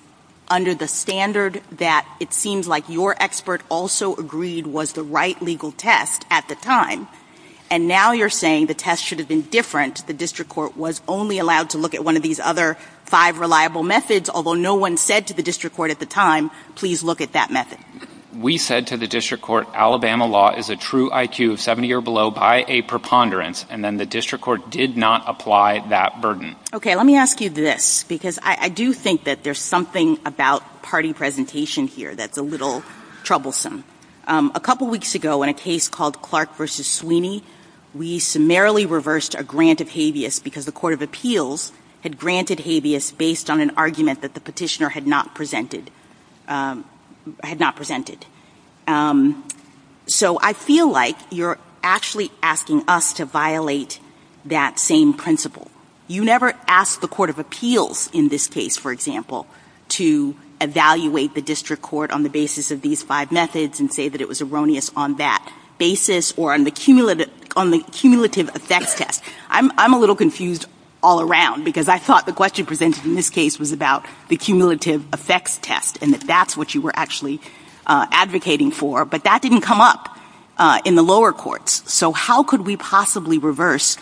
under the standard that it seems like your expert also agreed was the right legal test at the time, and now you're saying the test should have been different, the district court was only allowed to look at one of these other five reliable methods, although no one said to the district court at the time, please look at that method. We said to the district court, Alabama law is a true IQ of 70 or below by a preponderance, and then the district court did not apply that burden. Okay, let me ask you this, because I do think that there's something about party presentation here that's a little troublesome. A couple weeks ago, in a case called Clark v. Sweeney, we summarily reversed a grant of habeas because the court of appeals had granted habeas based on an argument that the petitioner had not presented. So I feel like you're actually asking us to violate that same principle. You never ask the court of appeals in this case, for example, to evaluate the district court on the basis of these five methods and say that it was erroneous on that basis or on the cumulative effects test. I'm a little confused all around because I thought the question presented in this case was about the cumulative effects test and that that's what you were actually advocating for, but that didn't come up in the lower courts. So how could we possibly reverse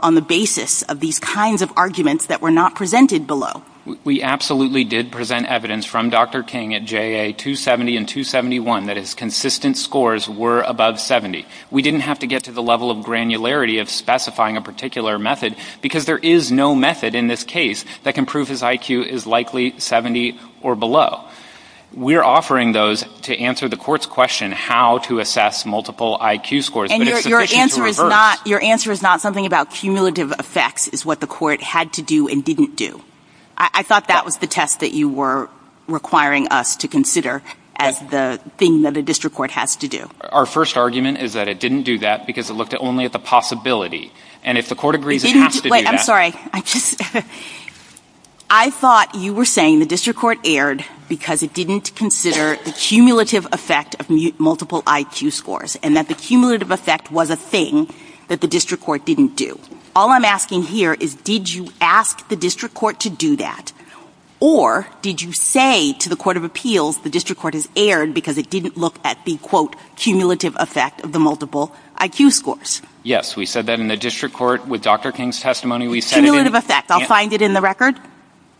on the basis of these kinds of arguments that were not presented below? We absolutely did present evidence from Dr. King at JA 270 and 271 that his consistent scores were above 70. We didn't have to get to the level of granularity of specifying a particular method because there is no method in this case that can prove his IQ is likely 70 or below. We're offering those to answer the court's question how to assess multiple IQ scores, but it's sufficient to reverse. Your answer is not something about cumulative effects is what the court had to do and didn't do. I thought that was the test that you were requiring us to consider as the thing that the district court has to do. Our first argument is that it didn't do that because it looked only at the possibility, and if the court agrees it has to do that... Wait, I'm sorry. I thought you were saying the district court erred because it didn't consider the cumulative effect of multiple IQ scores and that the cumulative effect was a thing that the district court didn't do. All I'm asking here is, did you ask the district court to do that, or did you say to the court of appeals the district court has erred because it didn't look at the, quote, cumulative effect of the multiple IQ scores? Yes, we said that in the district court with Dr. King's testimony. Cumulative effect, I'll find it in the record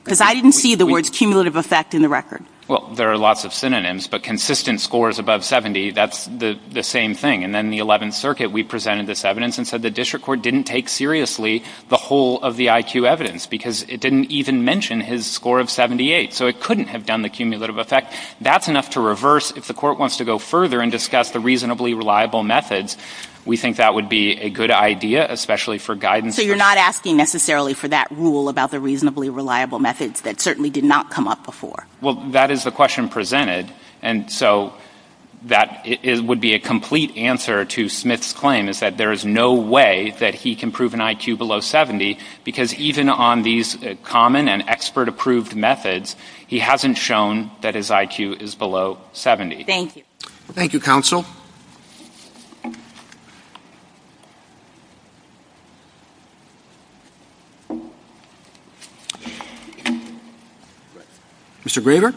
because I didn't see the words cumulative effect in the record. Well, there are lots of synonyms, but consistent scores above 70, that's the same thing. And then the 11th Circuit, we presented this evidence and said the district court didn't take seriously the whole of the IQ evidence because it didn't even mention his score of 78, so it couldn't have done the cumulative effect. That's enough to reverse. If the court wants to go further and discuss the reasonably reliable methods, we think that would be a good idea, especially for guidance... So you're not asking necessarily for that rule about the reasonably reliable methods that certainly did not come up before? Well, that is the question presented, and so that would be a complete answer to Smith's claim is that there is no way that he can prove an IQ below 70 because even on these common and expert-approved methods, he hasn't shown that his IQ is below 70. Thank you. Thank you, Counsel. Mr. Brewer?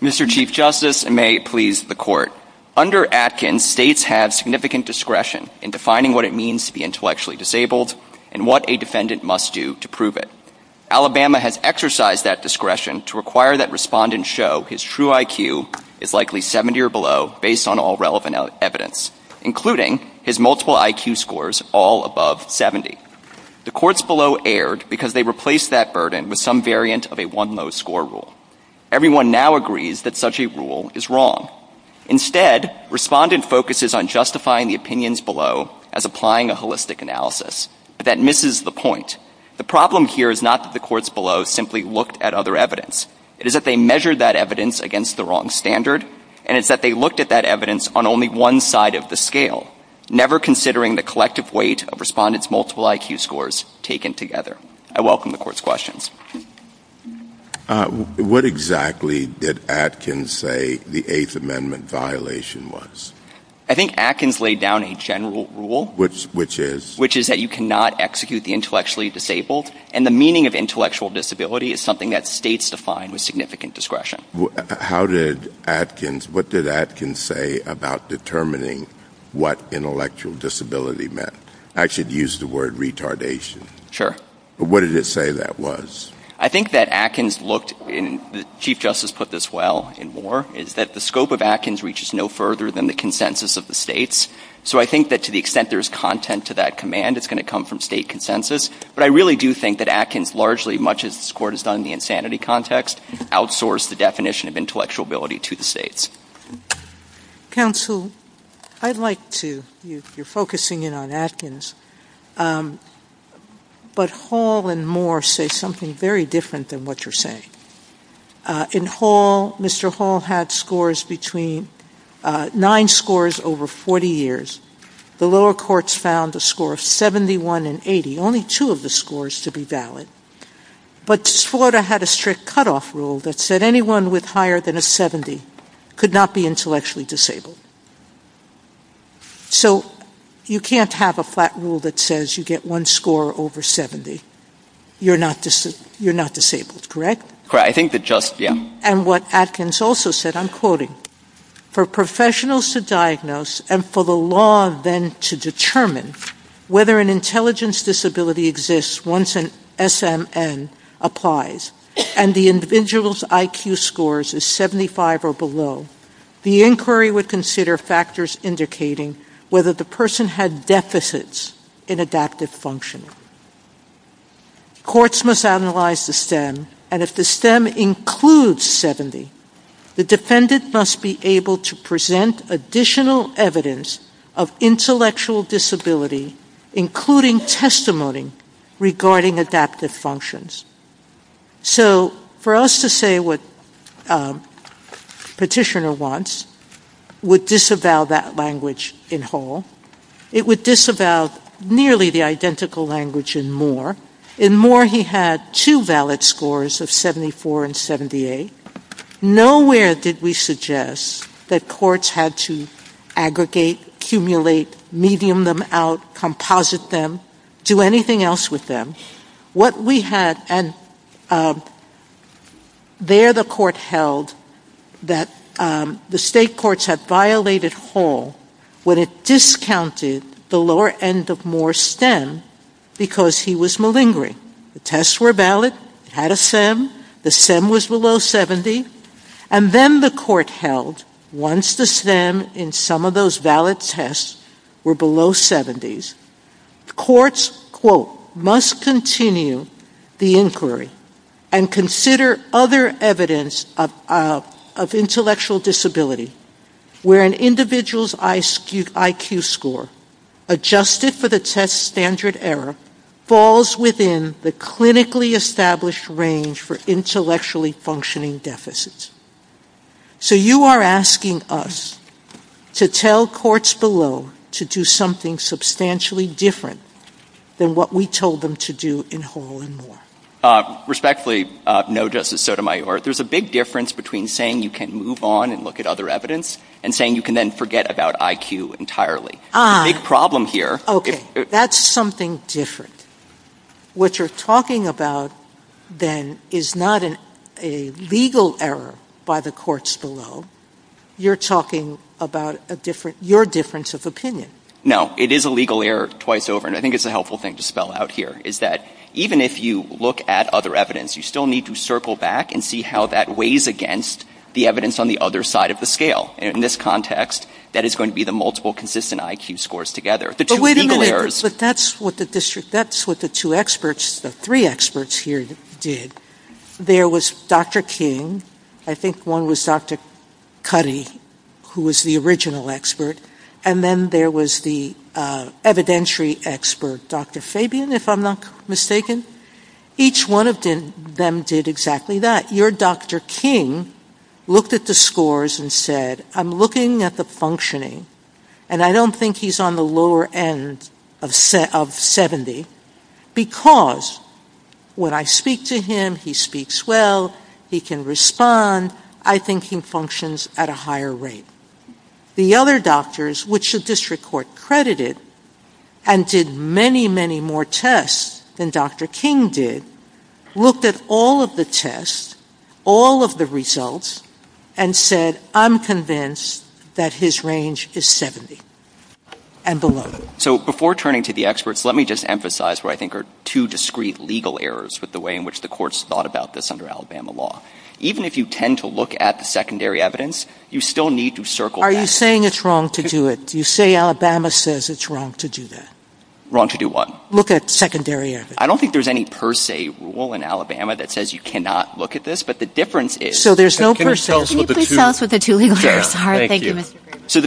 Mr. Chief Justice, and may it please the Court, under Atkins, states have significant discretion in defining what it means to be intellectually disabled and what a defendant must do to prove it. Alabama has exercised that discretion to require that respondents show his true IQ is likely 70 or below based on all relevant evidence, including his multiple IQ scores all above 70. The courts below erred because they replaced that burden with some variant of a one-no score rule. Everyone now agrees that such a rule is wrong. Instead, respondents focuses on justifying the opinions below as applying a holistic analysis, but that misses the point. The problem here is not that the courts below simply looked at other evidence. It is that they measured that evidence against the wrong standard, and it's that they looked at that evidence on only one side of the scale, never considering the collective weight of respondents' multiple IQ scores taken together. I welcome the Court's questions. What exactly did Atkins say the Eighth Amendment violation was? I think Atkins laid down a general rule, which is that you cannot execute the intellectually disabled, and the meaning of intellectual disability is something that states define with significant discretion. What did Atkins say about determining what intellectual disability meant? I should use the word retardation. Sure. What did it say that was? I think that Atkins looked, and Chief Justice put this well in Moore, is that the scope of Atkins reaches no further than the consensus of the states. So I think that to the extent there's content to that command, it's going to come from state consensus. But I really do think that Atkins, largely, much as this Court has done in the insanity context, outsourced the definition of intellectual ability to the states. Counsel, I'd like to... You're focusing in on Atkins, but Hall and Moore say something very different than what you're saying. In Hall, Mr. Hall had scores between nine scores over 40 years. The lower courts found the scores 71 and 80, only two of the scores to be valid. But Florida had a strict cutoff rule that said anyone with higher than a 70 could not be intellectually disabled. So you can't have a flat rule that says you get one score over 70. You're not disabled, correct? Correct. I think that just... And what Atkins also said, I'm quoting, for professionals to diagnose and for the law then to determine whether an intelligence disability exists once an SMN applies and the individual's IQ scores is 75 or below, the inquiry would consider factors indicating whether the person had deficits in adaptive function. Courts must analyze the STEM, and if the STEM includes 70, the defendant must be able to present additional evidence of intellectual disability, including testimony regarding adaptive functions. So for us to say what Petitioner wants would disavow that language in Hall. It would disavow nearly the identical language in Moore. In Moore, he had two valid scores of 74 and 78. Nowhere did we suggest that courts had to aggregate, accumulate, medium them out, composite them, do anything else with them. What we had, and there the court held that the state courts had violated Hall when it discounted the lower end of Moore's STEM because he was malingering. The tests were valid, he had a SEM, the SEM was below 70, and then the court held once the STEM in some of those valid tests were below 70s, courts, quote, must continue the inquiry and consider other evidence of intellectual disability, where an individual's IQ score adjusted for the test standard error falls within the clinically established range for intellectually functioning deficits. So you are asking us to tell courts below to do something substantially different than what we told them to do in Hall and Moore. Respectfully, no, Justice Kagan. There is a big difference between saying you can move on and look at other evidence and saying you can then forget about IQ entirely. That is something different. What you are talking about then is not a legal error by the courts below, you are talking about your difference of opinion. No, it is a legal error twice over, and I think it is that the evidence on the other side of the scale weighs against the evidence on the other side of the scale. In this context, that is going to be the multiple consistent IQ scores together. That is what the three experts here did. There was Dr. King, I think one was Dr. Cuddy, who was the original expert, and then there was the evidentiary expert, Dr. Fabian, if I am not mistaken. Each one of them did exactly that. Your Dr. King looked at the scores and said, I am looking at the functioning, and I don't think he is on the lower end of 70, because when I speak to him, he speaks well, he can respond, I think he functions at a higher rate. The other doctors, which the district court credited, and did many, many more tests than Dr. King did, looked at all of the tests, all of the results, and said, I am convinced that his range is 70 and below. Before turning to the experts, let me just emphasize what I think are two discreet legal errors with the way in which the courts thought about this issue. The first one is, even if you tend to look at the secondary evidence, you still need to circle back. Are you saying it is wrong to do it? Wrong to do what? I don't think there is any per se rule in Alabama that says you cannot look at this. So the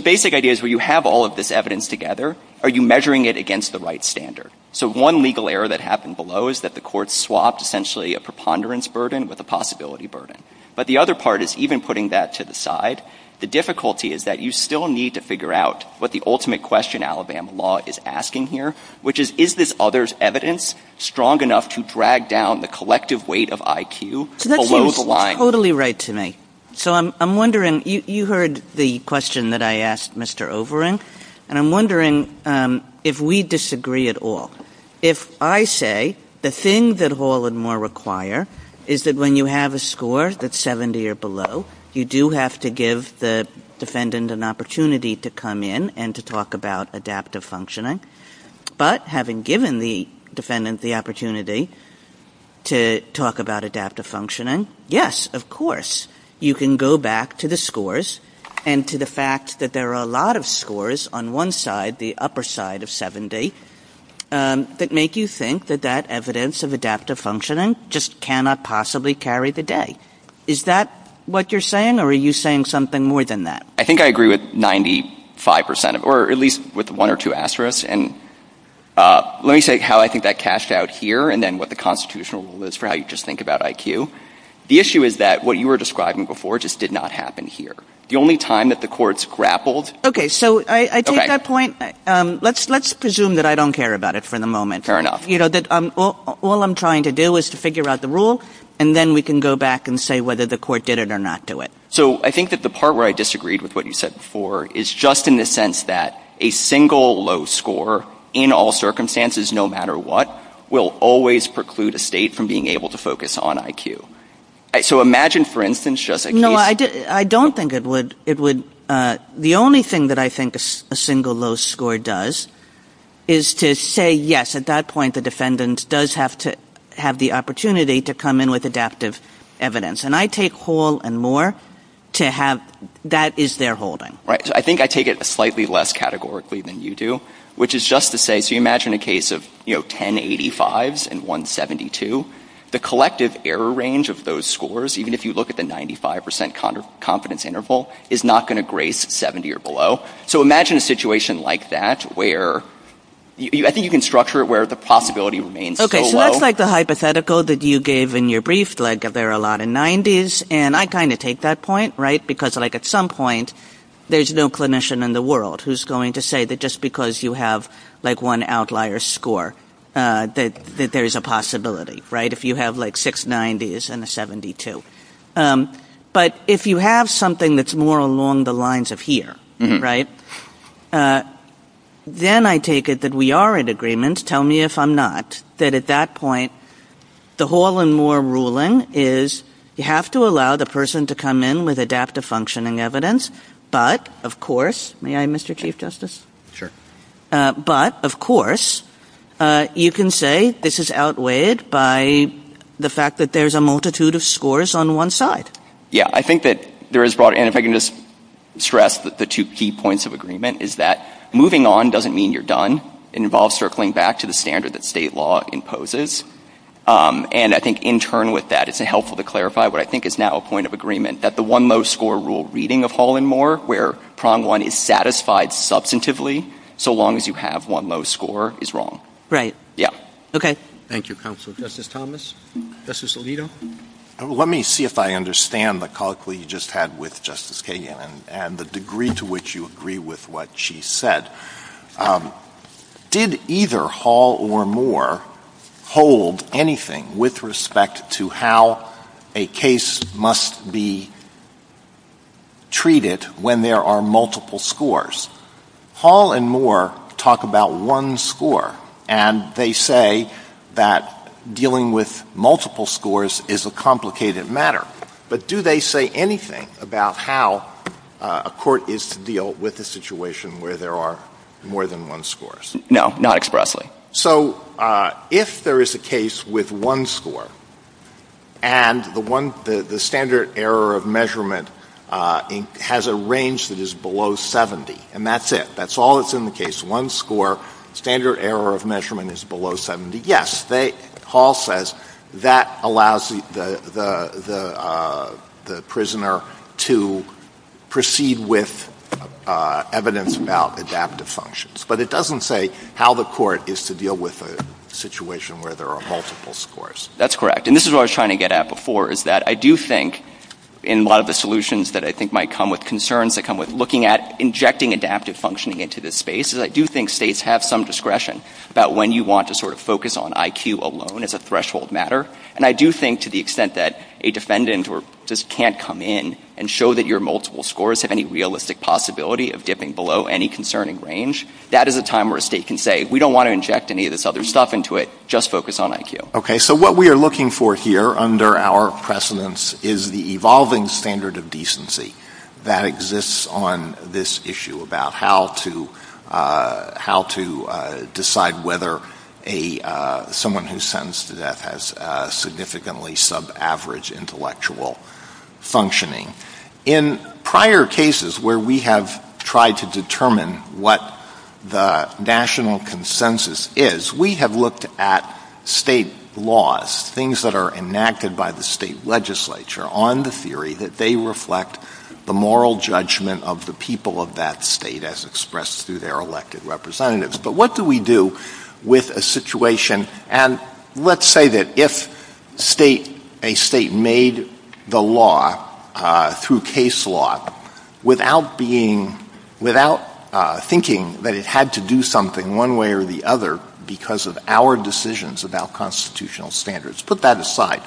basic idea is, when you have all of this evidence together, are you measuring it against the right standard? So one legal error that happened below is that the court swapped essentially a preponderance burden with a possibility burden. But the other part is, even putting that to the side, the difficulty is that you still need to figure out what the ultimate question Alabama law is asking here, which is, is this other's evidence strong enough to drag down the collective weight of IQ below the line? You heard the question that I asked Mr. Haldeman, and I'm wondering if we disagree at all. If I say the thing that Hall and Moore require is that when you have a score that's 70 or below, you do have to give the defendant an opportunity to come in and to talk about adaptive functioning, but having given the defendant the opportunity to talk about adaptive functioning, yes, of course, you can go back to the scores and to the fact that there are a lot of scores on one side, the upper side of 70, that make you think that that evidence of adaptive functioning just cannot possibly carry the day. Is that what you're saying, or are you saying something more than that? I think I agree with 95%, or at least with one or two asterisks. Let me say how I think that cashed out here, and then what the constitutional rule is for how you just think about IQ. The issue is that what you were describing before just did not happen here. The only time that the courts grappled... Okay, so I take that point. Let's presume that I don't care about it for the moment. All I'm trying to do is to figure out the rule, and then we can go back and say whether the court did it or not do it. I think that the part where I disagreed with what you said before is just in the sense that a single low score in all circumstances, no matter what, will always preclude a state from being able to focus on IQ. Imagine, for instance... No, I don't think it would. The only thing that I think a single low score does is to say, yes, at that point, the defendant does have the opportunity to come in with adaptive evidence. I take whole and more to have that as their holding. I think I take it slightly less categorically than you do, which is just to say... Imagine a case of 10 85s and 172. The collective error range of those scores, even if you look at the 95% confidence interval, is not going to grace 70 or below. Imagine a situation like that where... I think you can structure it where the possibility remains low. That's like the hypothetical that you gave in your brief, like there are a lot in 90s. I kind of take that point, right? Because at some point, there's no clinician in the world who's going to say that just because you have one outlier score that there's a possibility. If you have like six 90s and a 72. But if you have something that's more along the lines of here, then I take it that we are in agreement, tell me if I'm not, that at that point, the whole and more ruling is you have to allow the person to come in with adaptive functioning evidence, but of course... May I, Mr. Chief Justice? Sure. But of course, you can say this is outweighed by the fact that there's a multitude of scores on one side. Yeah, I think that there is... And if I can just stress the two key points of agreement is that moving on doesn't mean you're done. It involves circling back to the standard that state law imposes. And I think in turn with that, it's helpful to clarify what I think is now a point of agreement that the one most score rule reading of whole and more, where prong one is satisfied substantively so long as you have one low score is wrong. Right. Yeah. Okay. Thank you, Counsel. Justice Thomas? Justice Alito? Let me see if I understand the colloquy you just had with Justice Kagan and the degree to which you agree with what she said. Did either whole or more hold anything with respect to how a case must be treated when there are multiple scores? Whole and more talk about one score and they say that dealing with multiple scores is a complicated matter. But do they say anything about how a court is to deal with a situation where there are more than one scores? No. Not expressly. So if there is a case with one score and the standard error of measurement has a range that is below 70 and that's it. That's all that's in the case. One score, standard error of measurement is below 70. Yes. Hall says that allows the prisoner to proceed with evidence about adaptive functions. But it doesn't say how the court is to deal with a situation where there are multiple scores. That's correct. This is what I was trying to get at before. I do think in a lot of the solutions that I think might come with concerns that come with looking at injecting adaptive functioning into this space, I do think states have some discretion about when you want to focus on IQ alone as a threshold matter. And I do think to the extent that a defendant just can't come in and show that your multiple scores have any realistic possibility of dipping below any concerning range, that is a time where a state can say we don't want to inject any of this other stuff into it, just focus on IQ. Okay. So what we are looking for here under our precedence is the evolving standard of decency that exists on this issue about how to decide whether someone who is sentenced to death has significantly sub-average intellectual functioning. In prior cases where we have tried to determine what the national consensus is, we have looked at state laws, things that are enacted by the state legislature on the theory that they reflect the moral judgment of the people of that state as expressed through their elected representatives. But what do we do with a situation, and let's say that if a state made the law through case law without thinking that it had to do something one way or the other because of our decisions about constitutional standards, put that aside,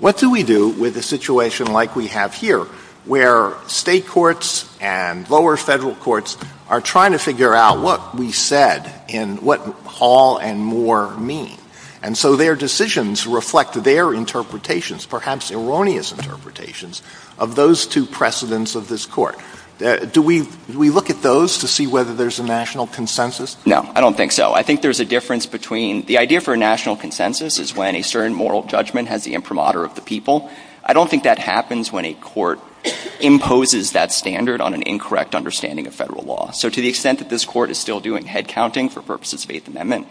what do we do with a situation like we have here where state courts and lower federal courts are trying to figure out what we said and what all and more mean? And so their decisions reflect their interpretations, perhaps erroneous interpretations, of those two precedents of this court. Do we look at those to see whether there's a national consensus? No, I don't think so. I think there's a difference between the idea for a national consensus is when a certain moral judgment has the imprimatur of the people. I don't think that happens when a court imposes that standard on an incorrect understanding of federal law. So to the extent that this court is still doing head counting for purposes of eighth amendment,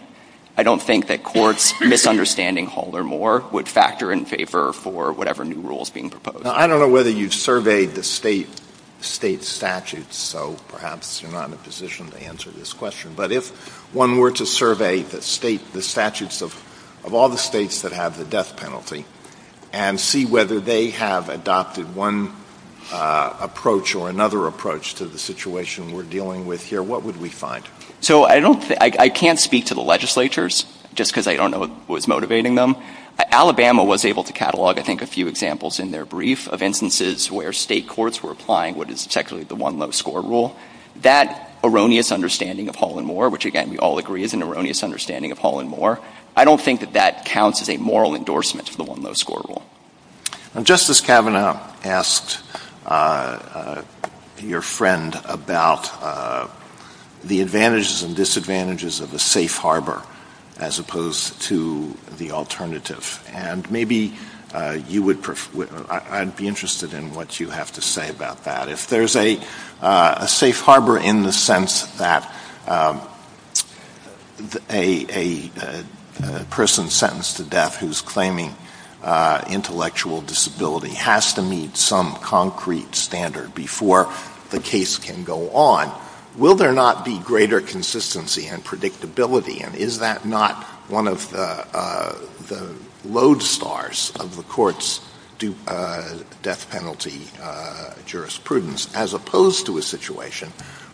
I don't think that courts misunderstanding all or more would factor in favor for whatever new rules being proposed. I don't know whether you've surveyed the state statutes, so perhaps you're not in a position to answer this question, but if one were to survey the statutes of all the states that have the death penalty and see whether they have adopted one approach or another approach to the situation we're dealing with here, what would we find? So I can't speak to the legislatures, just because I don't know what's motivating them. Alabama was able to catalog I think a few examples in their brief of instances where state courts were applying what is technically the one low score rule. That erroneous understanding of Hall and Moore, which again we all agree is an erroneous understanding of Hall and Moore, I don't think that that counts as a moral endorsement for the one low score rule. Justice Kavanaugh asked your friend about the advantages and disadvantages of the safe harbor as opposed to the alternative. And maybe I'd be interested in what you have to say about that. If there's a safe harbor in the sense that a person sentenced to death who's claiming intellectual disability has to meet some concrete standard before the case can go on, will there not be greater consistency and stability and is that not one of the lodestars of the court's death penalty jurisprudence as opposed to a situation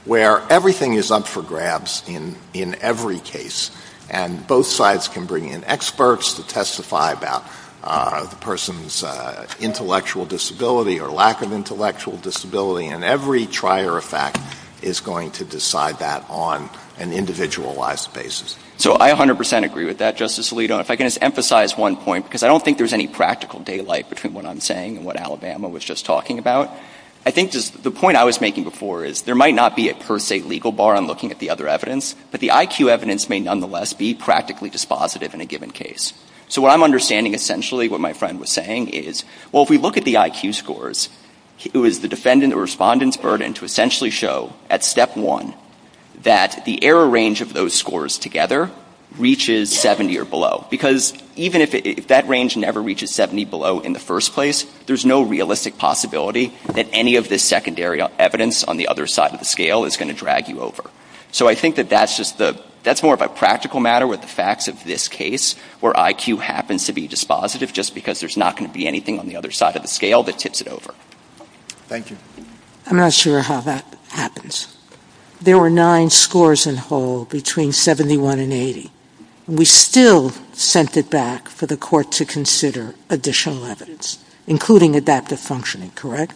where everything is up for grabs in every case and both sides can bring in experts to testify about the person's intellectual disability or lack of intellectual disability and every trier effect is going to decide that on an individualized basis. So I 100% agree with that, Justice Alito. And if I can just emphasize one point, because I don't think there's any practical daylight between what I'm saying and what Alabama was just talking about, I think the point I was making before is there might not be a per se legal bar on looking at the other evidence, but the IQ evidence may nonetheless be practically dispositive in a given case. So what I'm understanding essentially what my friend was saying is, well, if we look at the IQ scores, it was the defendant or respondent's burden to essentially show at step one that the error range of those scores together reaches 70 or below. Because even if that range never reaches 70 below in the first place, there's no realistic possibility that any of this secondary evidence on the other side of the scale is going to drag you over. So I think that that's more of a practical matter with the facts of this case where IQ happens to be dispositive just because there's not going to be anything on the other side of the scale that tips it over. Thank you. I'm not sure how that happens. There were nine scores in whole between 71 and 80. We still sent it back for the court to consider additional evidence, including adaptive functioning, correct?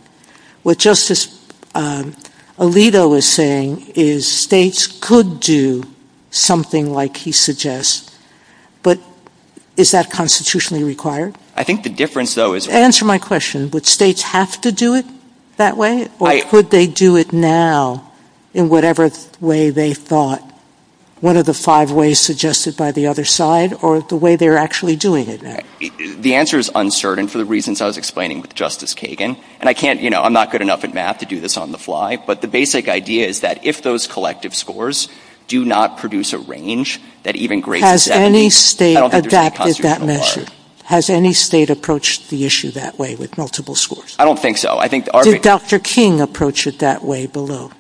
What Justice Alito was saying is states could do something like he suggests, but is that constitutionally required? I think the difference, though, is... Answer my question. Would states have to do it that way, or could they do it now in whatever way they thought? What are the five ways suggested by the other side or the way they're actually doing it? The answer is uncertain for the reasons I was explaining with Justice Kagan, and I can't, you know, I'm not good enough in math to do this on the fly, but the basic idea is that if those collective scores do not produce a range that even great... Has any state adapted that measure? Has any state approached the issue that way with multiple schools? I don't think so. Did Dr. King approach it that way below?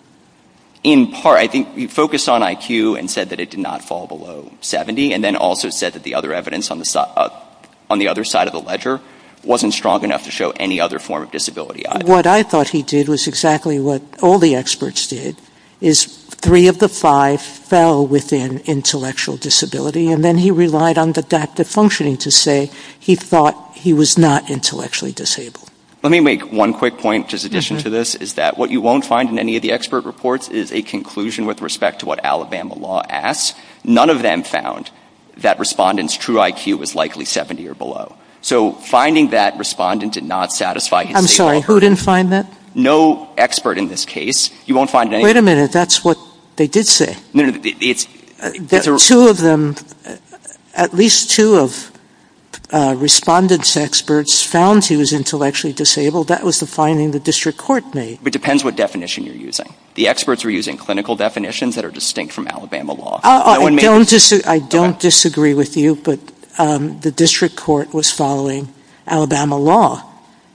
In part, I think he focused on IQ and said that it did not fall below 70, and then also said that the other evidence on the other side of the ledger wasn't strong enough to show any other form of disability. What I thought he did was exactly what all the experts did, is three of the five fell within intellectual disability, and then he relied on the data functioning to say he thought he was not intellectually disabled. Let me make one quick point, just in addition to this, is that what you won't find in any of the expert reports is a conclusion with respect to what Alabama law asks. None of them found that respondent's true IQ was likely 70 or below. So finding that respondent did not satisfy his... I'm sorry, who didn't find that? No expert in this case. Wait a minute, that's what they did say. No, no, it's... Two of them, at least two of respondent's experts found he was intellectually disabled, that was the finding the district court made. It depends what definition you're using. The experts were using clinical definitions that are distinct from Alabama law. I don't disagree with you, but the district court was following Alabama law.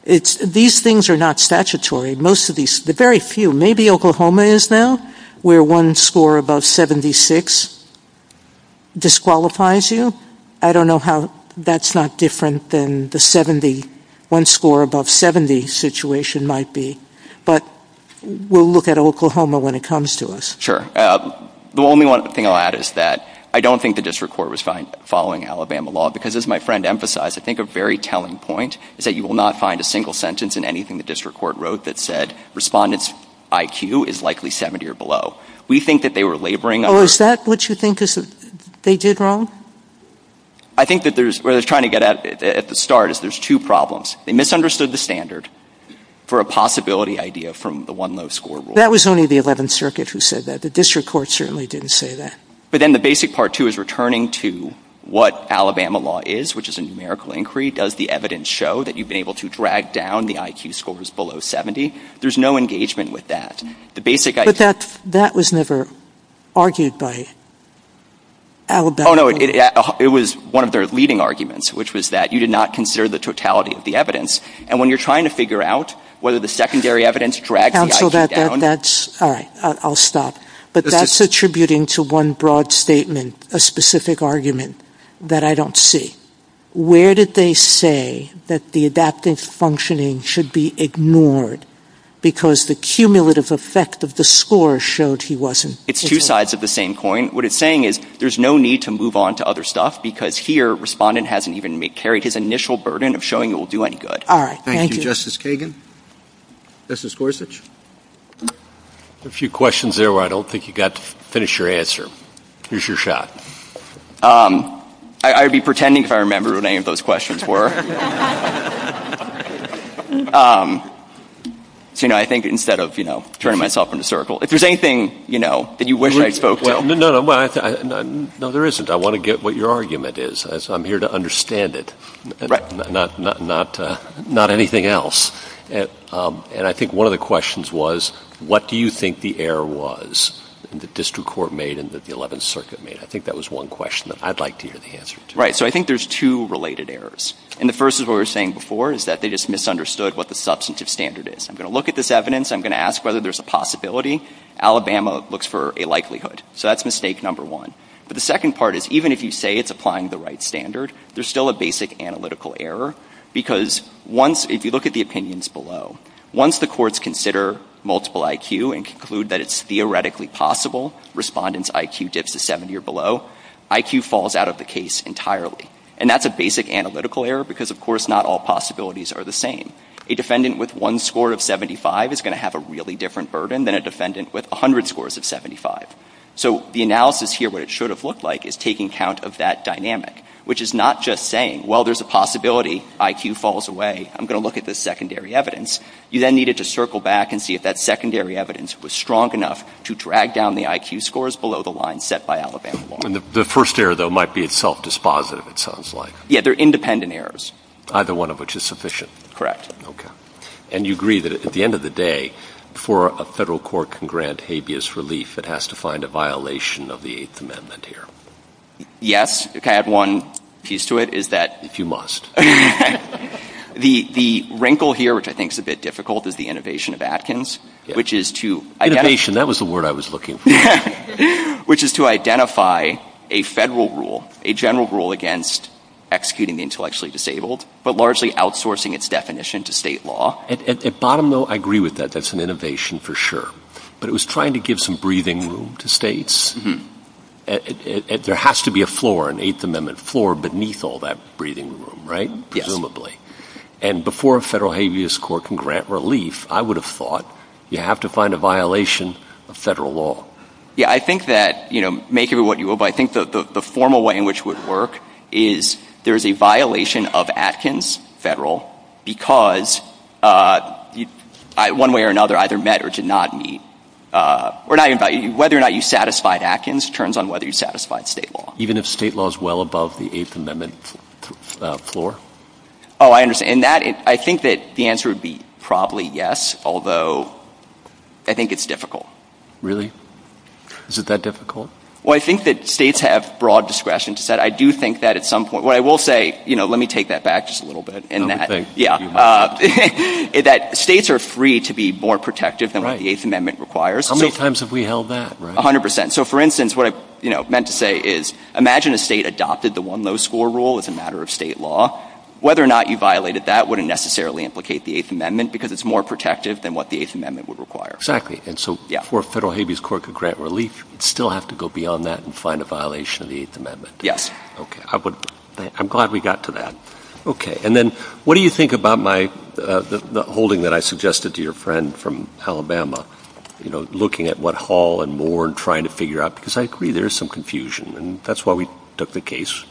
These things are not statutory. Most of these, the very few, maybe Oklahoma is now, where one score above 76 disqualifies you. I don't know how that's not different than the 70, one score above 70 situation might be. But we'll look at Oklahoma when it comes to us. Sure. The only thing I'll add is that I don't think the district court was following Alabama law because as my friend emphasized, I think a very telling point is that you will not find a single sentence in anything the district court wrote that said respondent's IQ is likely 70 or below. We think that they were laboring... Oh, is that what you think they did wrong? I think that there's, what I was trying to get at at the start is there's two problems. They misunderstood the standard for a possibility idea from the one low score rule. That was only the 11th Circuit who said that. The district court certainly didn't say that. But then the basic part, too, is returning to what Alabama law is, which is a numerical inquiry. Does the evidence show that you've been able to drag down the IQ scores below 70? There's no engagement with that. But that was never argued by Alabama. Oh, no. It was one of their leading arguments, which was that you did not consider the totality of the evidence. And when you're trying to figure out whether the secondary evidence dragged the IQ down... All right. I'll stop. But that's attributing to one broad statement, a specific argument, that I don't see. Where did they say that the adaptive functioning should be ignored because the cumulative effect of the score showed he wasn't... It's two sides of the same coin. What it's saying is there's no need to move on to other stuff because here, Respondent hasn't even carried his initial burden of showing it will do any good. All right. Thank you. Thank you, Justice Kagan. Justice Gorsuch? A few questions there where I don't think you got to finish your answer. Here's your shot. I would be pretending if I remembered what any of those questions were. So, you know, I think instead of, you know, turning myself in a circle. If there's anything, you know, that you wish I spoke... No, there isn't. I want to get what your argument is. I'm here to understand it. Right. Not anything else. And I think one of the questions was what do you think the error was that the District Court made and that the 11th Circuit made? I think that was one question that I'd like to hear the answer to. Right. So I think there's two related errors. And the first is what we were saying before is that they just misunderstood what the substantive standard is. I'm going to look at this evidence. I'm going to ask whether there's a possibility. Alabama looks for a likelihood. So that's mistake number one. But the second part is even if you say it's applying the right standard, there's still a basic analytical error because once, if you look at the opinions below, once the courts consider multiple IQ and conclude that it's theoretically possible Respondent's IQ dips to 70 or below, IQ falls out of the case entirely. And that's a basic analytical error because, of course, not all possibilities are the same. A defendant with one score of 75 is going to have a really different burden than a defendant with 100 scores of 75. So the analysis here, what it should have looked like, is taking account of that dynamic, which is not just saying well, there's a possibility IQ falls away. I'm going to look at the secondary evidence. You then needed to circle back and see if that secondary evidence was strong enough to drag down the IQ scores below the line set by Alabama law. The first error, though, might be self-dispositive, it sounds like. Yeah, they're independent errors. Either one of which is sufficient. Correct. Okay. And you agree that at the end of the day, before a federal court can grant habeas relief, it has to find a violation of the Eighth Amendment here. Yes. If I had one piece to it, it's that You must. The wrinkle here, which I think is a bit difficult, is the innovation of Atkins, which is to... Innovation, that was the word I was looking for. Which is to identify a federal rule, a general rule against executing the intellectually disabled, but largely outsourcing its definition to state law. At bottom note, I agree with that. That's an innovation for sure. But it was trying to give some breathing room to states. There has to be a floor, an Eighth Amendment floor, beneath all that breathing room, right? Presumably. And before a federal habeas court can grant relief, I would have thought you have to find a violation of federal law. Yeah, I think that make of it what you will, but I think the formal way in which it would work is there's a violation of Atkins, federal, because one way or another, either met or did not meet. Whether or not you satisfied Atkins turns on whether you satisfied state law. Even if state law is well above the Eighth Amendment floor? Oh, I understand. And I think that the answer would be probably yes, although I think it's difficult. Really? Is it that difficult? Well, I think that states have broad discretion. I do think that at some point I will say, let me take that back just a little bit. States are free to be more protective than what the Eighth Amendment requires. How many times have we held that? 100%. So, for instance, what I meant to say is, imagine a state adopted the one low score rule as a matter of state law. Whether or not you violated that would not necessarily implicate the Eighth Amendment because it's more protective than what the Eighth Amendment would require. Exactly. And so, for a federal habeas cord to grant relief, you'd still have to go beyond that and find a violation of the Eighth Amendment. Yes. I'm glad we got to that. And then, what do you think about the holding that I suggested to your friend from Alabama, looking at what Hall and Moore and trying to figure out, because I agree there's some confusion, and that's why we took the case,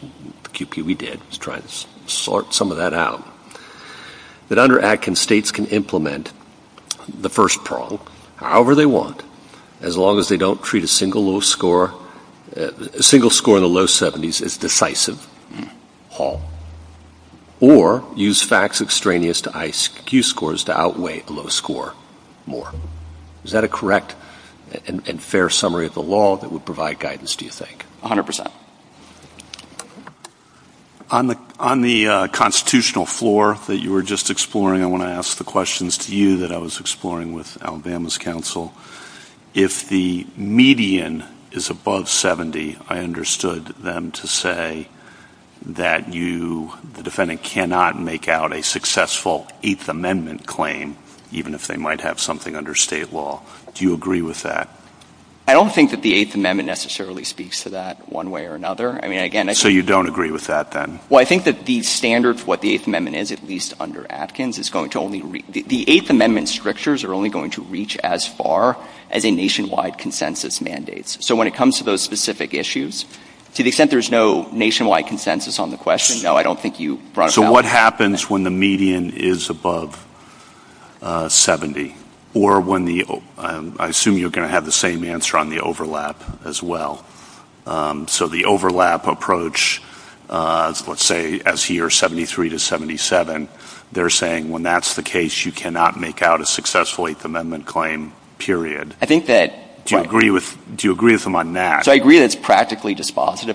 QP, we did. Let's try to sort some of that out. But under ADKIN, states can implement the first prong however they want as long as they don't treat a single low score, a single score in the low 70s as decisive Hall. Or use facts extraneous to IQ scores to outweigh a low score Moore. Is that a correct and fair summary of the law that would provide guidance do you think? 100%. On the constitutional floor that you were just exploring, I want to ask the questions to you that I was exploring with Alabama's counsel. If the median is above 70, I understood them to say that the defendant cannot make out a successful Eighth Amendment claim, even if they might have something under state law. Do you agree with that? I don't think that the Eighth Amendment necessarily speaks to that one way or another. So you don't agree with that then? I think that the standards, what the Eighth Amendment is, at least under ADKIN, the Eighth Amendment strictures are only going to reach as far as a nationwide consensus mandate. So when it comes to those specific issues, to the extent there's no nationwide consensus on the question, no, I don't think you brought it up. So what happens when the median is above 70? I assume you're going to have the same answer on the overlap as well. So the overlap approach, let's say, as here, 73 to 77, they're saying when that's the case, you cannot make out a successful Eighth Amendment claim, period. Do you agree with them on that? I agree that it's practically dispositive.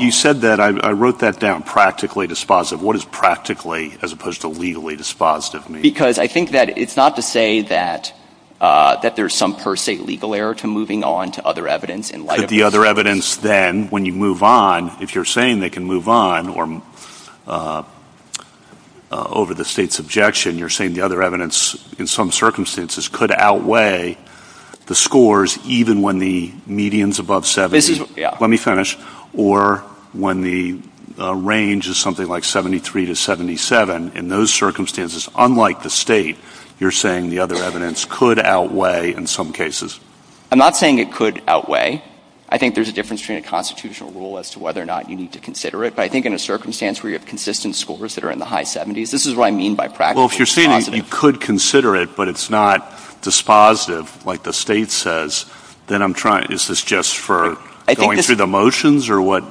You said that. I wrote that down, practically dispositive. What does practically as opposed to legally dispositive mean? Because I think that it's not to say that there's some oversight legal error to moving on to other evidence. The other evidence then, when you move on, if you're saying they can move on or over the state's objection, you're saying the other evidence in some circumstances could outweigh the scores, even when the median's above 70. Let me finish. Or when the range is something like 73 to 77, in those circumstances, unlike the state, you're saying the other evidence could outweigh in some cases? I'm not saying it could outweigh. I think there's a difference between a constitutional rule as to whether or not you need to consider it. But I think in a circumstance where you have consistent scores that are in the high 70s, this is what I mean by practically dispositive. Well, if you're saying that you could consider it, but it's not dispositive, like the state says, then I'm trying — is this just for going through the motions or what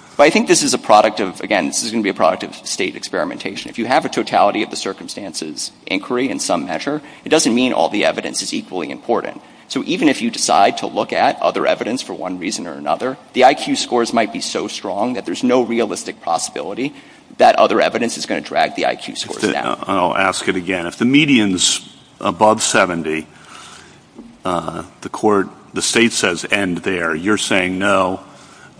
— But I think this is a product of — again, this is going to be a product of state experimentation. If you have a totality of the circumstances inquiry in some measure, it doesn't mean all the evidence is equally important. So even if you decide to look at other evidence for one reason or another, the IQ scores might be so strong that there's no realistic possibility that other evidence is going to drag the IQ scores down. I'll ask it again. If the median's above 70, the court — the state says end there, you're saying no,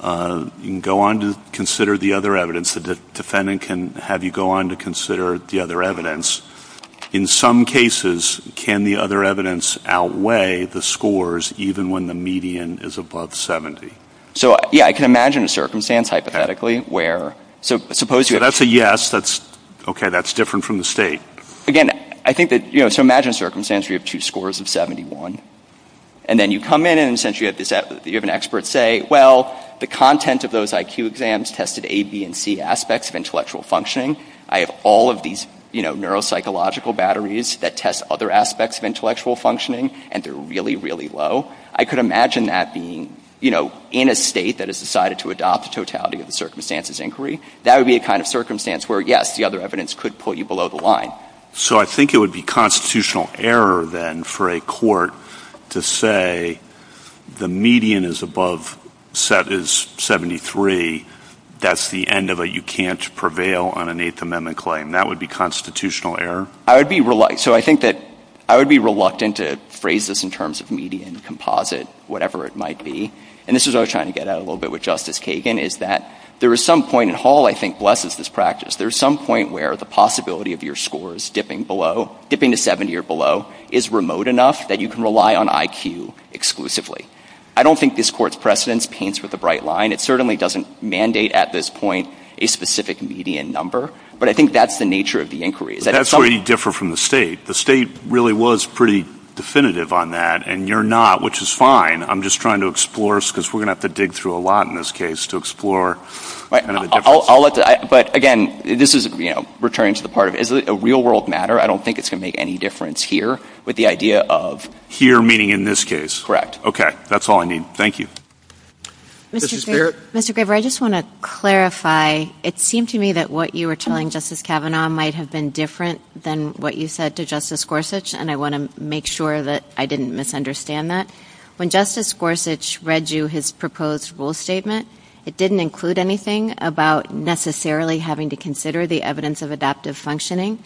you can go on to consider the other evidence. The defendant can have you go on to consider the other evidence. In some cases, can the other evidence outweigh the scores even when the median is above 70? So, yeah, I can imagine a circumstance hypothetically where — That's a yes. That's — okay, that's different from the state. Again, I think that — you know, so imagine a circumstance where you have two scores of 71, and then you come in and essentially you have an expert say, well, the content of those IQ exams tested A, B, and C aspects of intellectual functioning. I have all of these, you know, neuropsychological batteries that test other aspects of intellectual functioning, and they're really, really low. I could imagine that being, you know, in a state that has decided to adopt totality of the circumstances inquiry. That would be a kind of circumstance where, yes, the other evidence could put you below the line. So I think it would be constitutional error, then, for a court to say the median is above — is 73, that's the end of a you-can't-prevail-on-an-Eighth- Grade, that would be constitutional error. I would be — so I think that I would be reluctant to phrase this in terms of median, composite, whatever it might be, and this is what I was trying to get at a little bit with Justice Kagan, is that there is some point in Hall, I think, blesses this practice. There's some point where the possibility of your scores dipping below — dipping to 70 or below is remote enough that you can rely on IQ exclusively. I don't think this court's precedence paints with the bright line. It certainly doesn't mandate at this point a specific median number, but I think that's the nature of the inquiry. But that's where you differ from the state. The state really was pretty definitive on that, and you're not, which is fine. I'm just trying to explore, because we're going to have to dig through a lot in this case to explore. Right. I'll let — but again, this is, you know, returning to the part of — is it a real-world matter? I don't think it's going to make any difference here with the idea of — Here, meaning in this case. Correct. Okay. That's all I need. Thank you. Justice Barrett? Mr. Graber, I just want to clarify. It seemed to me that what you were telling Justice Kavanaugh might have been different than what you said to Justice Gorsuch, and I want to make sure that I didn't misunderstand that. When Justice Gorsuch read you his proposed rule statement, it didn't include anything about necessarily having to consider the evidence of adaptive functioning,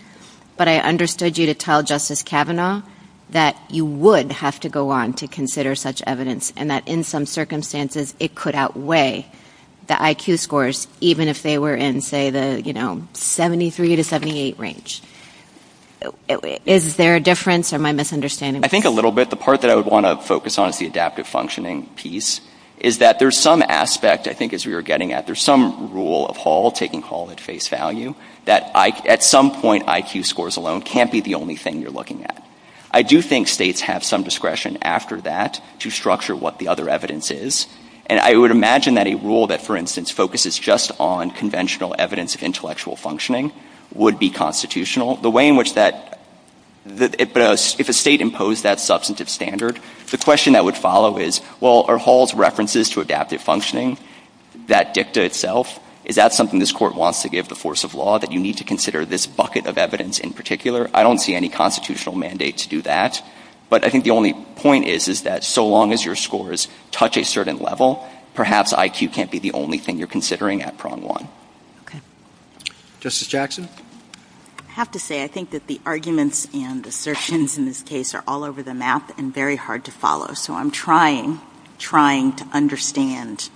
but I understood you to tell Justice Kavanaugh that you would have to go on to consider such evidence, and that in some circumstances, it could outweigh the IQ scores, even if they were in, say, the, you know, 73 to 78 range. Is there a difference, or am I misunderstanding? I think a little bit. The part that I would want to focus on is the adaptive functioning piece, is that there's some aspect, I think, as we were getting at, there's some rule of Hall, taking Hall at face value, that at some point, IQ scores alone can't be the only thing you're looking at. I do think states have some discretion after that to structure what the other evidence is, and I would imagine that a rule that, for instance, focuses just on conventional evidence of intellectual functioning would be constitutional. The way in which that, if a state imposed that substantive standard, the question that would follow is, well, are Hall's references to adaptive functioning that dicta itself? Is that something this Court wants to give the force of law, that you need to consider this bucket of evidence in particular? I don't see any constitutional mandate to do that, but I think the only point is, is that so long as your scores touch a certain level, perhaps IQ can't be the only thing you're considering at Prong 1. Okay. Justice Jackson? I have to say, I think that the arguments and assertions in this case are all over the map and very hard to follow, so I'm trying, trying to understand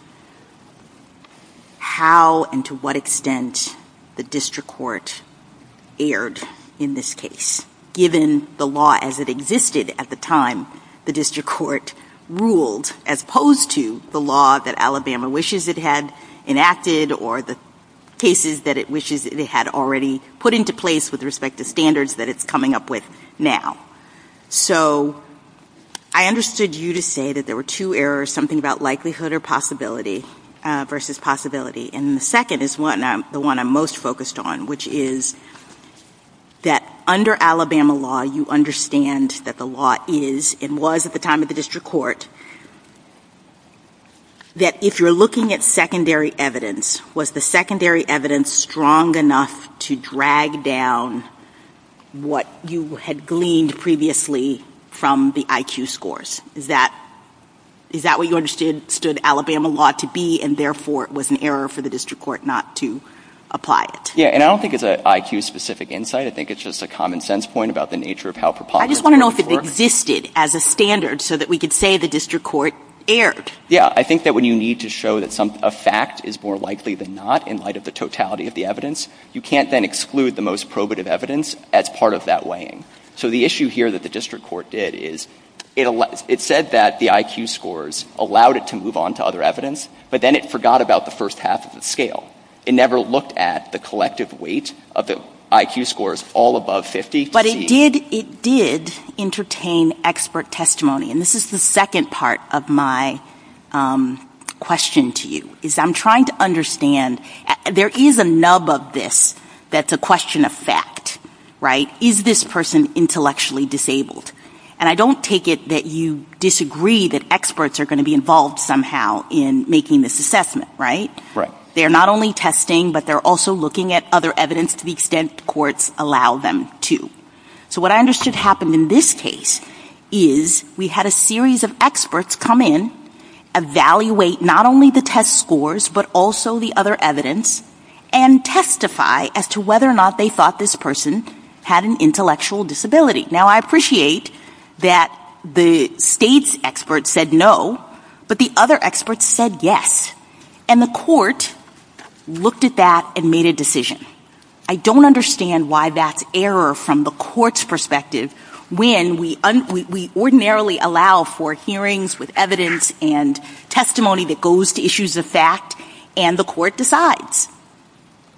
how and to what extent the district court erred in this case, given the law as it existed at the time the district court ruled, as opposed to the law that Alabama wishes it had enacted or the cases that it wishes they had already put into place with respect to standards that it's coming up with now. So I understood you to say that there were two errors, something about likelihood or possibility versus possibility, and the second is the one I'm most focused on, which is that under Alabama law, you understand that the law is, and was at the time of the district court, that if you're looking at secondary evidence, was the secondary evidence strong enough to drag down what you had gleaned previously from the IQ scores? Is that what you understood Alabama law to be and therefore it was an error for the district court not to apply it? Yeah, and I don't think it's an IQ-specific insight. I think it's just a common sense point about the nature of how preponderance works. I just want to know if it existed as a standard so that we could say the district court erred. Yeah, I think that when you need to show that a fact is more likely than not in light of the totality of the evidence, you can't then exclude the most probative evidence as part of that weighing. So the issue here that the district court did is it said that the IQ scores allowed it to move on to other evidence, but then it forgot about the first half of the scale. It never looked at the collective weight of the IQ scores all above 50. But it did entertain expert testimony, and this is the second part of my question to you, is I'm trying to understand, there is a nub of this that's a question of fact, right? Is this person intellectually disabled? And I don't take it that you disagree that experts are going to be involved somehow in making this assessment, right? They're not only testing, but they're also looking at other evidence to the extent courts allow them to. So what I understood happened in this case is we had a series of experts come in, evaluate not only the test scores, but also the other evidence, and testify as to whether or not they thought this person had an intellectual disability. Now, I appreciate that the state's experts said no, but the other experts said yes. And the court looked at that and made a decision. I don't understand why that's error from the court's perspective when we ordinarily allow for hearings with evidence and testimony that goes to issues of fact, and the court decides.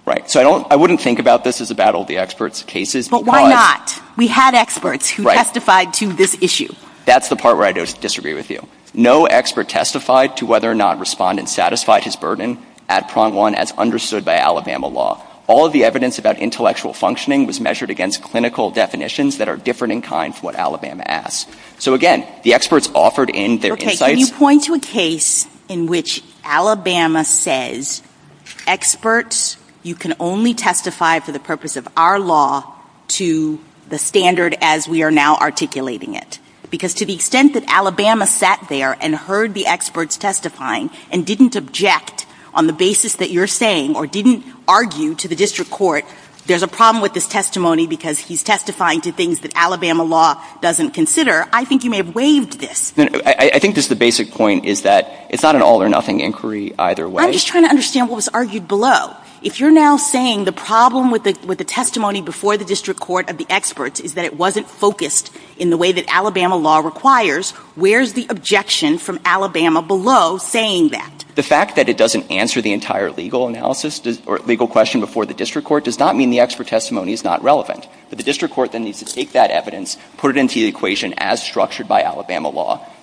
Right. So I wouldn't think about this as a battle of the experts' cases. But why not? We had experts who testified to this issue. That's the part where I disagree with you. No expert testified to whether or not respondents satisfied his burden at prong one as understood by Alabama law. All of the evidence about intellectual functioning was measured against clinical definitions that are different in kind from what Alabama asks. So again, the experts offered in their insights were different. Can you point to a case in which Alabama says experts, you can only testify for the purpose of our law to the standard as we are now articulating it. Because to the extent that Alabama sat there and heard the experts testifying and didn't object on the basis that you're saying or didn't argue to the district court there's a problem with this testimony because he's testifying to things that Alabama law doesn't consider, I think you may have waived this. I think this is the basic point is that it's not an all or nothing inquiry either way. I'm just trying to understand what was argued below. If you're now saying the problem with the testimony before the district court of the experts is that it wasn't focused in the way that Alabama law requires, where's the objection from Alabama below saying that? The fact that it doesn't answer the entire legal analysis or legal question before the district court does not mean the expert testimony is not relevant. But the district court then needs to take that evidence, put it into the equation as well.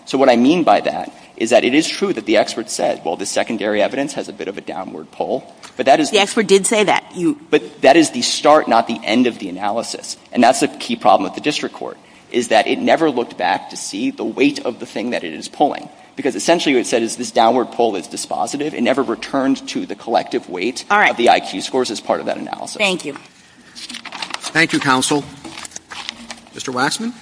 So what I mean by that is that it is true that the expert said, well, the secondary evidence has a bit of a downward pull. But that is... The expert did say that. But that is the start, not the end of the analysis. And that's the key problem with the district court is that it never looked back to see the weight of the thing that it is pulling. Because essentially what it said is this downward pull is dispositive. It never returned to the collective weight of the IQ scores as part of that analysis. Thank you. Thank you, counsel. Mr. Waxman?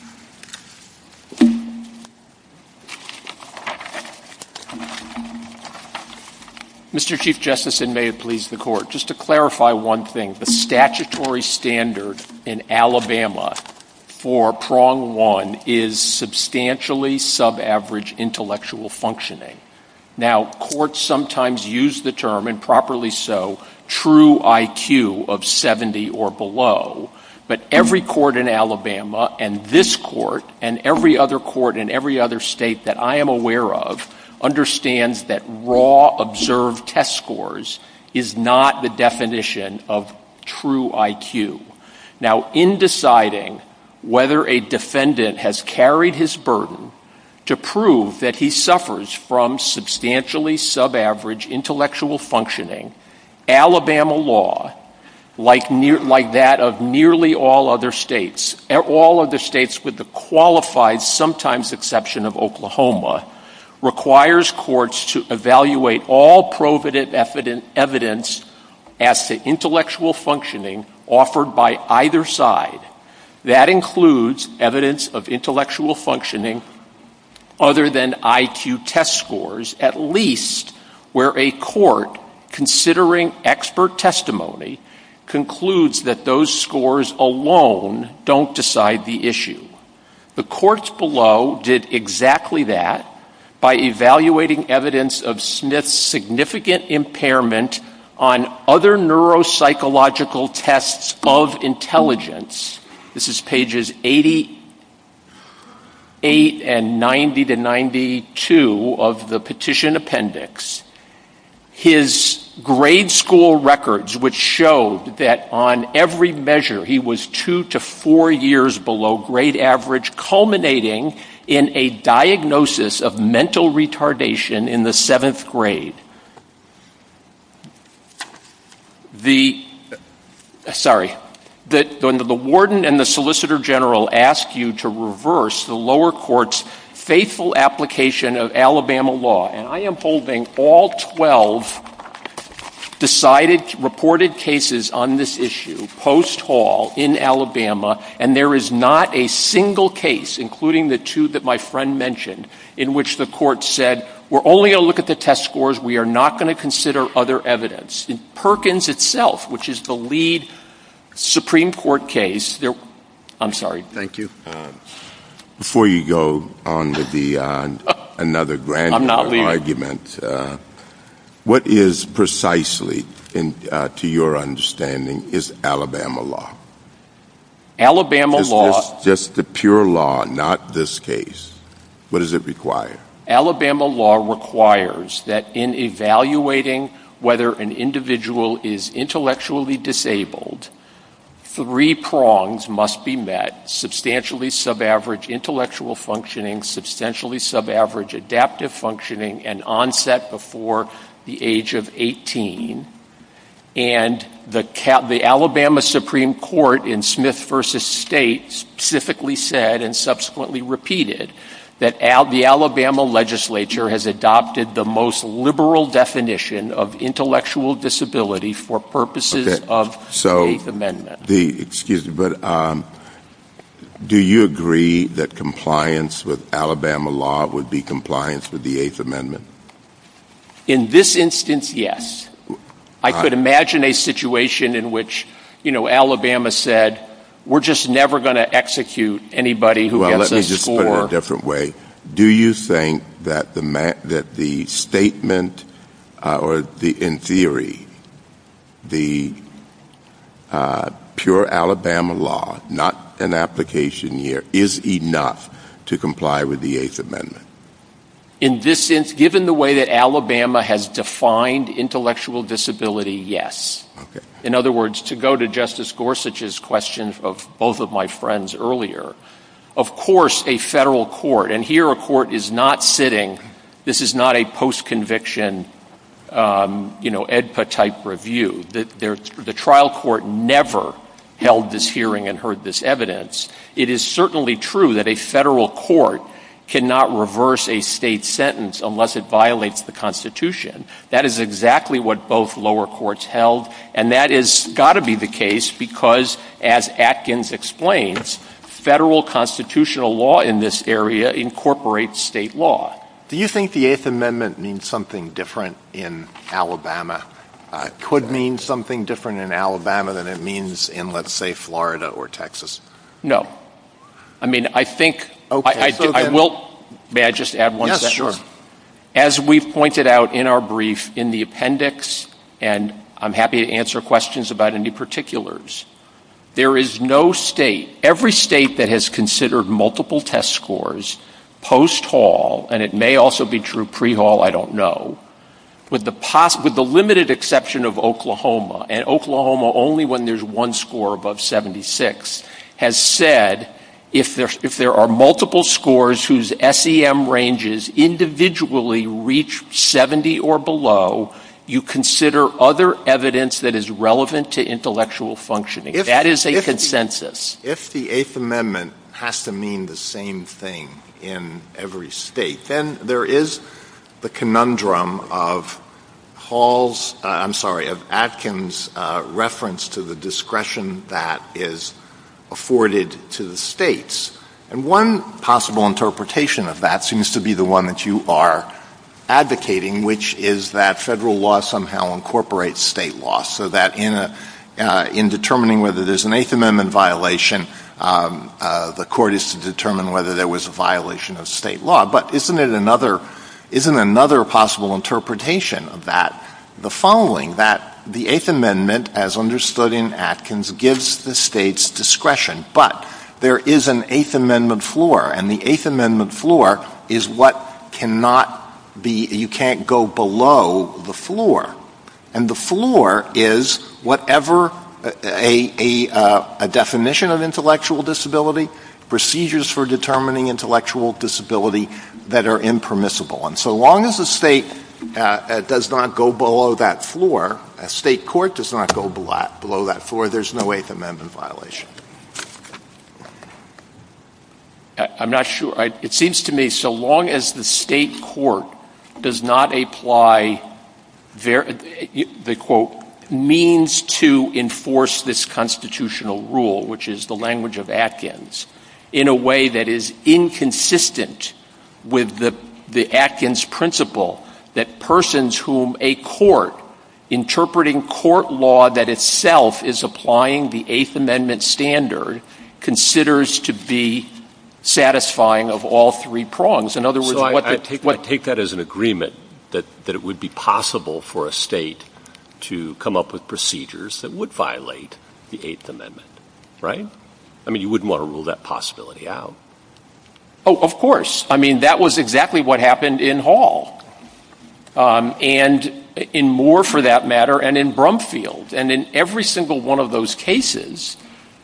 Mr. Chief Justice, and may it please the court, just to clarify one thing, the statutory standard in Alabama for prong one is substantially subaverage intellectual functioning. Now, courts sometimes use the term, and properly so, true IQ of 70 or below. But every court in Alabama, and this court, and every other court in every other state that I am aware of, understands that raw observed test scores is not the definition of true IQ. Now, in deciding whether a defendant has carried his burden to prove that he suffers from substantially subaverage intellectual functioning, Alabama law, like that of nearly all other states, all other states with the qualified sometimes exception of Oklahoma, requires courts to evaluate all proven evidence as to intellectual functioning offered by either side. That includes evidence of intellectual functioning other than IQ test scores, at least where a court, considering expert testimony, concludes that those scores alone don't decide the issue. The courts below did exactly that by evaluating evidence of Smith's significant impairment on other neuropsychological tests of intelligence. This is pages 88 and 90 to 92 of the petition in the appendix, his grade school records, which showed that on every measure, he was two to four years below grade average, culminating in a diagnosis of mental retardation in the seventh grade. The, sorry, the warden and the solicitor general ask you to reverse the lower court's faithful application of Alabama law, and I am holding all 12 decided, reported cases on this issue post-hall in Alabama, and there is not a single case, including the two that my friend mentioned, in which the court said, we're only going to look at the test scores, we are not going to consider other evidence. In Perkins itself, which is the lead Supreme Court case, I'm sorry. Thank you. Before you go on to the, another granular argument, what is precisely, to your understanding, is Alabama law? Alabama law. Is this the pure law, not this case? What does it require? Alabama law requires that in evaluating whether an individual is intellectually disabled, three prongs must be met, substantially sub-average intellectual functioning, substantially sub-average adaptive functioning, and onset before the age of 18, and the Alabama Supreme Court in Smith v. State specifically said, and subsequently repeated, that the Alabama legislature has adopted the most liberal definition of intellectual disability for purposes of the Eighth Amendment. Excuse me, but do you agree that compliance with Alabama law would be compliance with the Eighth Amendment? In this instance, yes. I could imagine a situation in which, you know, Alabama said, we're just never going to execute anybody who has a score. Well, let me just put it a different way. Do you think that the statement, or in theory, the pure Alabama law, not an application here, is enough to comply with the Eighth Amendment? In this instance, given the way that Alabama has defined intellectual disability, yes. In other words, to go to Justice friends earlier, of course a federal court, and here a court is not sitting, this is not a post-conviction, you know, AEDPA-type review. The trial court never held this hearing and heard this evidence. It is certainly true that a federal court cannot reverse a state sentence unless it violates the Constitution. That is exactly what both lower courts held, and that has got to be the case because, as Atkins explains, federal constitutional law in this area incorporates state law. Do you think the Eighth Amendment means something different in Alabama, could mean something different in Alabama than it means in, let's say, Florida or Texas? No. I mean, I think, I will, may I just add one second? Yes, sure. As we pointed out in our brief in the appendix, and I'm happy to answer any questions about any particulars, there is no state, every state that has considered multiple test scores post-haul, and it may also be true pre-haul, I don't know, with the limited exception of Oklahoma, and Oklahoma only when there's one score above 76, has said if there are multiple scores whose SEM ranges individually reach 70 or below, you consider other evidence that is relevant to intellectual functioning. That is a consensus. If the Eighth Amendment has to mean the same thing in every state, then there is the conundrum of Hall's, I'm sorry, of Atkins' reference to the discretion that is afforded to the states, and one possible interpretation of that seems to be the one that you are advocating, which is that federal law somehow incorporates state law, so that in determining whether there's an Eighth Amendment violation, the court is to determine whether there was a violation of state law. But isn't it another possible interpretation of that, the following, that the Eighth Amendment, as understood in Atkins, gives the states discretion, but there is an Eighth Amendment floor, and the Eighth Amendment floor is what cannot be, you can't go below the Eighth Amendment floor. And the floor is whatever a definition of intellectual disability, procedures for determining intellectual disability that are impermissible. And so long as the state does not go below that floor, state court does not go below that floor, there's no Eighth Amendment violation. I'm not sure, it seems to me, so long as the state court does not apply the quote, means to enforce this constitutional rule, which is the language of Atkins, in a way that is inconsistent with the Atkins principle, that persons whom a court, interpreting court law that itself is applying the Eighth Amendment standard, considers to be satisfying of all three prongs, in all three prongs. So I take that as an agreement, that it would be possible for a state to come up with procedures that would violate the Eighth Amendment, right? I mean, you wouldn't want to rule that possibility out. Oh, of course. I mean, that was exactly what happened in Hall. And in Moore, for that matter, and in Brumfield, and in every single one of those cases,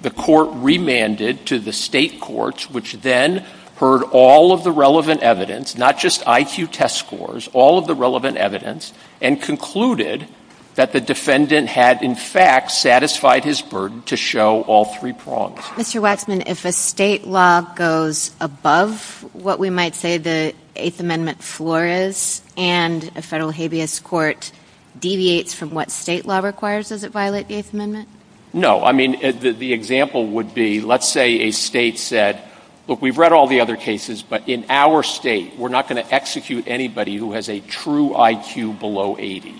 the court remanded to the state courts, which then heard all of the relevant evidence, not just IQ test scores, all of the relevant evidence, and concluded that the defendant had, in fact, satisfied his burden to show all three prongs. Mr. Wexman, if a state law goes above what we might say the Eighth Amendment floor is, and a federal habeas court deviates from what state law requires, does it violate the Eighth Amendment? No. I mean, the example would be, let's say a state said, look, we've read all the other cases, but in our state, we're not going to execute anybody who has a true IQ below 80.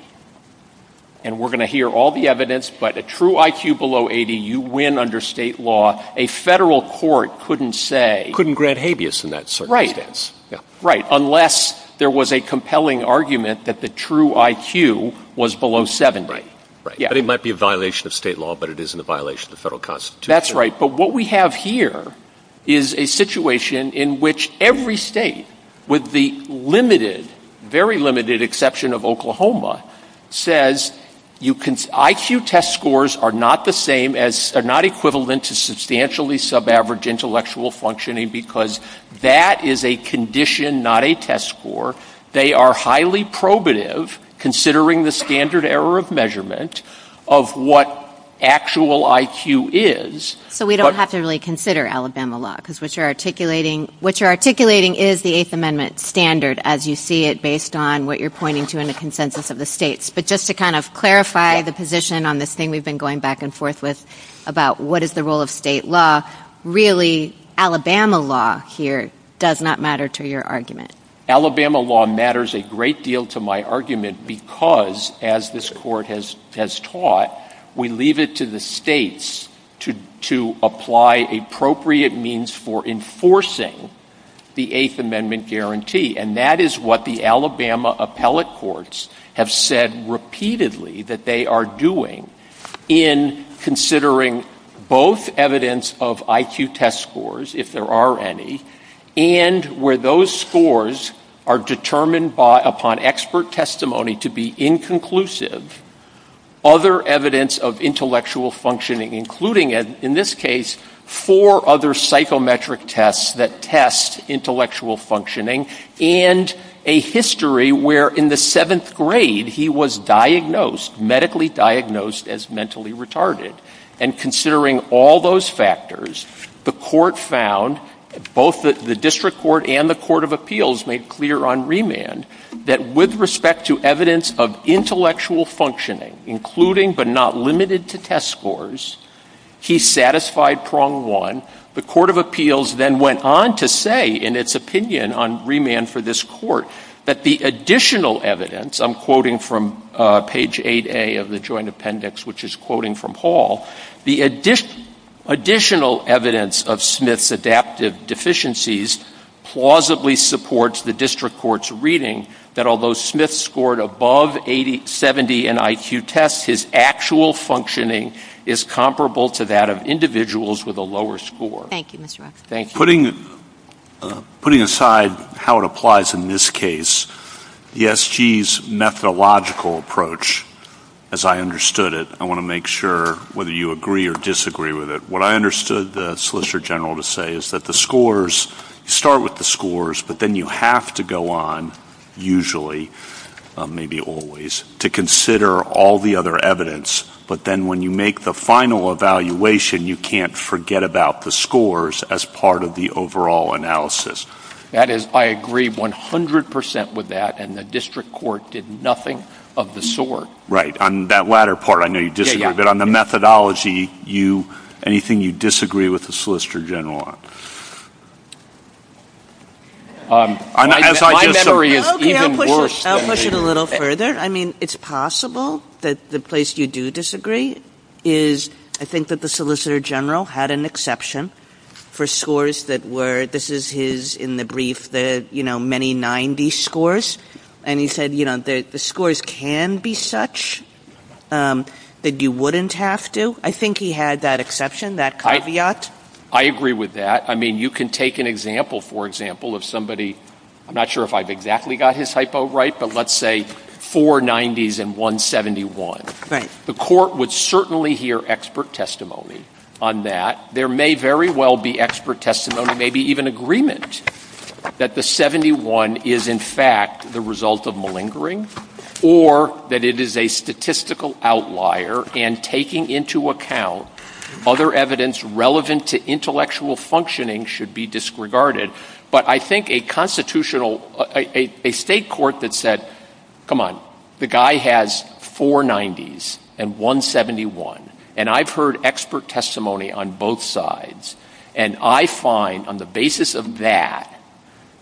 And we're going to hear all the evidence, but a true IQ below 80, you win under state law. A federal court couldn't say — Couldn't grant habeas in that circumstance. Right. Unless there was a compelling argument that the true IQ was below 70. Right. But it might be a violation of state law, but it isn't a violation of the federal constitution. That's right. But what we have here is a situation in which every state, with the limited, very limited exception of Oklahoma, says IQ test scores are not the same as — are not equivalent to substantially subaverage intellectual functioning because that is a condition, not a test score. They are highly probative, considering the standard error of measurement of what actual IQ is. So we don't have to really consider Alabama law, because what you're articulating is the Eighth Amendment standard, as you see it, based on what you're pointing to in the consensus of the states. But just to kind of clarify the position on this thing we've been going back and forth with about what is the role of state law, really Alabama law here does not matter to your argument. Alabama law matters a great deal to my argument because, as this court has taught, we leave it to the states to apply appropriate means for enforcing the Eighth Amendment guarantee. And that is what the Alabama appellate courts have said repeatedly that they are doing in considering both evidence of IQ test scores, if there are any, and where those scores are determined upon expert testimony to be inconclusive, other evidence of intellectual functioning, including, in this case, four other psychometric tests that test intellectual functioning, and a history where in the seventh grade he was diagnosed, medically diagnosed, as mentally retarded. And considering all those factors, the court found, both the district court and the court of appeals made clear on remand, that with respect to evidence of intellectual functioning, including but not limited to test scores, he satisfied prong one. The court of appeals then went on to say, in its opinion on remand for this court, that the additional evidence, I'm quoting from page 8A of the joint appendix, which is quoting from Hall, the additional evidence of Smith's adaptive deficiencies plausibly supports the district court's reading that although Smith scored above 80, 70 in IQ tests, his actual functioning is comparable to that of individuals with a lower score. Putting aside how it applies in this case, the SG's methodological approach, as I understood it, I want to make sure whether you agree or disagree with it, what I understood the Solicitor General to say is that the scores, start with the scores, but then you have to go on, usually, maybe always, to consider all the other evidence, but then when you make the final evaluation, you can't forget about the scores as part of the overall analysis. That is, I agree 100% with that, and the district court did nothing of the sort. Right. On that latter part, I know you disagree, but on the methodology, anything you disagree with the Solicitor General on? My memory is even worse. I'll push it a little further. I mean, it's possible that the place you do disagree is, I think that the Solicitor General had an exception for scores that were, this is his, in the brief, the, you know, many 90 scores, and he said, you know, the scores can be such that you wouldn't have to. I think he had that exception, that caveat. I agree with that. I mean, you can take an example, for example, of somebody, I'm not sure if I've exactly got his hypo right, but let's say 490s and 171. Right. The court would certainly hear expert testimony on that. There may very well be expert testimony, maybe even agreement, that the 71 is, in fact, the result of malingering, or that it is a statistical outlier, and taking into account other evidence relevant to intellectual functioning should be disregarded. But I think a constitutional, a state court that said, come on, the guy has 490s and 171, and I've heard expert testimony on both sides, and I find, on the basis of that,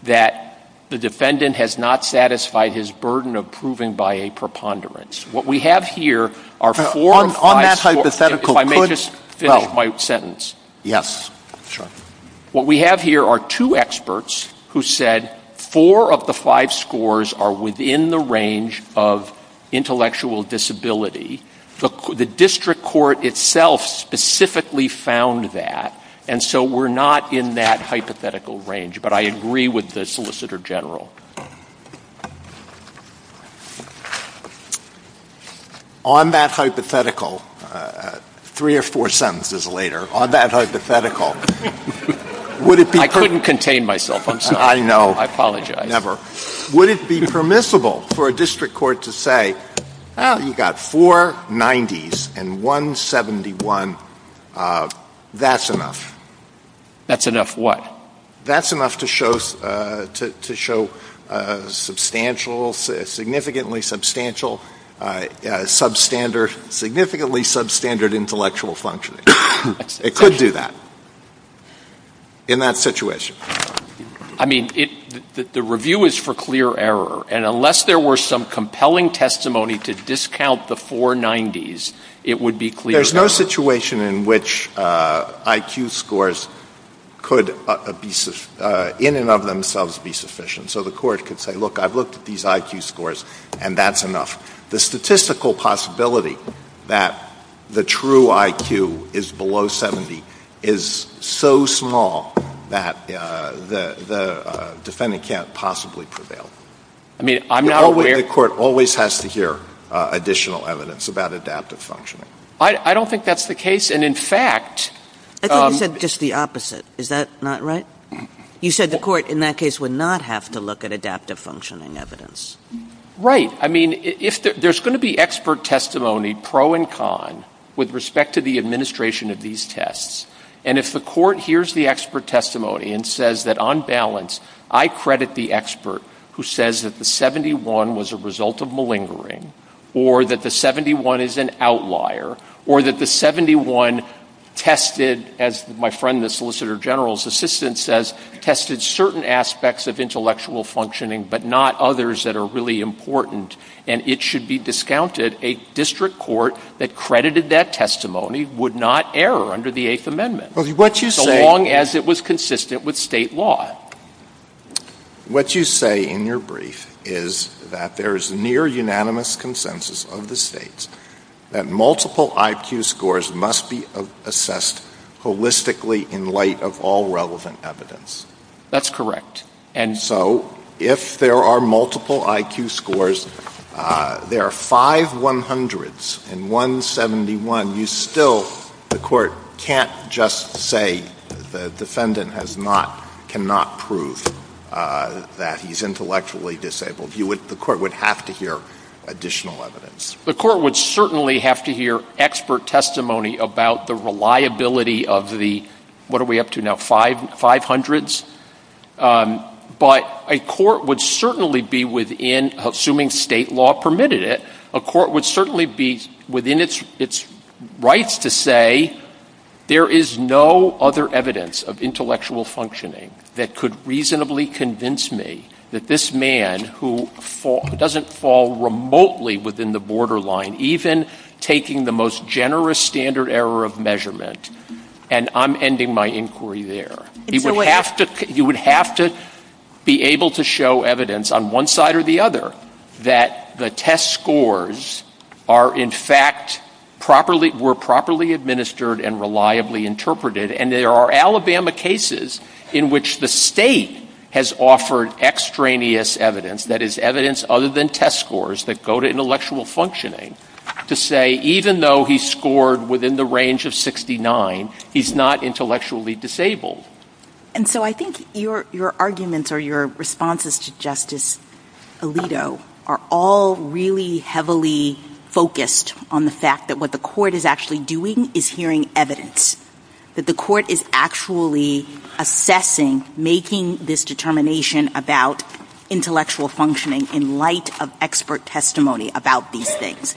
that the defendant has not satisfied his burden of proving by a preponderance. What we have here are four and five On that hypothetical, if I may just finish my sentence. Yes. Sure. What we have here are two experts who said four of the five scores are within the range of intellectual disability. The district court itself specifically found that, and so we're not in that hypothetical range. But I agree with the solicitor general. On that hypothetical, three or four sentences later. On that hypothetical. I couldn't contain myself. I know. I apologize. Would it be permissible for a district court to say, you've got 490s and 171. That's enough. That's enough what? That's enough to show substantially substantial substandard, significantly substandard. It could do that. In that situation. I mean, the review is for clear error. And unless there were some compelling testimony to discount the 490s, it would be clear. There's no situation in which IQ scores could in and of themselves be sufficient. So the court could say, look, I've looked at these IQ scores and that's enough. The statistical possibility that the true IQ is below 70 is so small that the defendant can't possibly prevail. I mean, the court always has to hear additional evidence about adaptive functioning. I don't think that's the case. And in fact. I thought you said just the opposite. Is that not right? You said the court in that case would not have to look at adaptive functioning evidence. Right. I mean, there's going to be expert testimony pro and con with respect to the administration of these tests. And if the court hears the expert testimony and says that on balance I credit the expert who says that the 71 was a result of malingering or that the 71 is an outlier or that the 71 tested as my friend the solicitor general's assistant says tested certain aspects of intellectual functioning but not others that are really important and it should be discounted, a district court that credited that testimony would not err under the Eighth Amendment. So long as it was consistent with state law. What you say in your brief is that there is near unanimous consensus of the states that multiple IQ scores must be assessed holistically in light of all relevant evidence. That's correct. And so if there are multiple IQ scores there are five 100s and one 71. You still, the court can't just say the defendant has not, cannot prove that he's intellectually disabled. The court would have to hear additional evidence. The court would certainly have to hear expert testimony about the reliability of the, what are we up to now, five hundreds? But a court would certainly be within its rights to say there is no other evidence of intellectual functioning that could reasonably convince me that this man who doesn't fall remotely within the borderline, even taking the most generous standard error of measurement, and I'm ending my inquiry there. You would have to be able to show evidence on one side or the other that the test scores are in fact properly, were properly administered and reliably interpreted. And there are Alabama cases in which the state has offered extraneous evidence, that is evidence other than test scores that go to intellectual functioning, to say even though he scored within the range of 69 he's not intellectually disabled. And so I think your arguments or your arguments are all really heavily focused on the fact that what the court is actually doing is hearing evidence. That the court is actually assessing, making this determination about intellectual functioning in light of expert testimony about these things.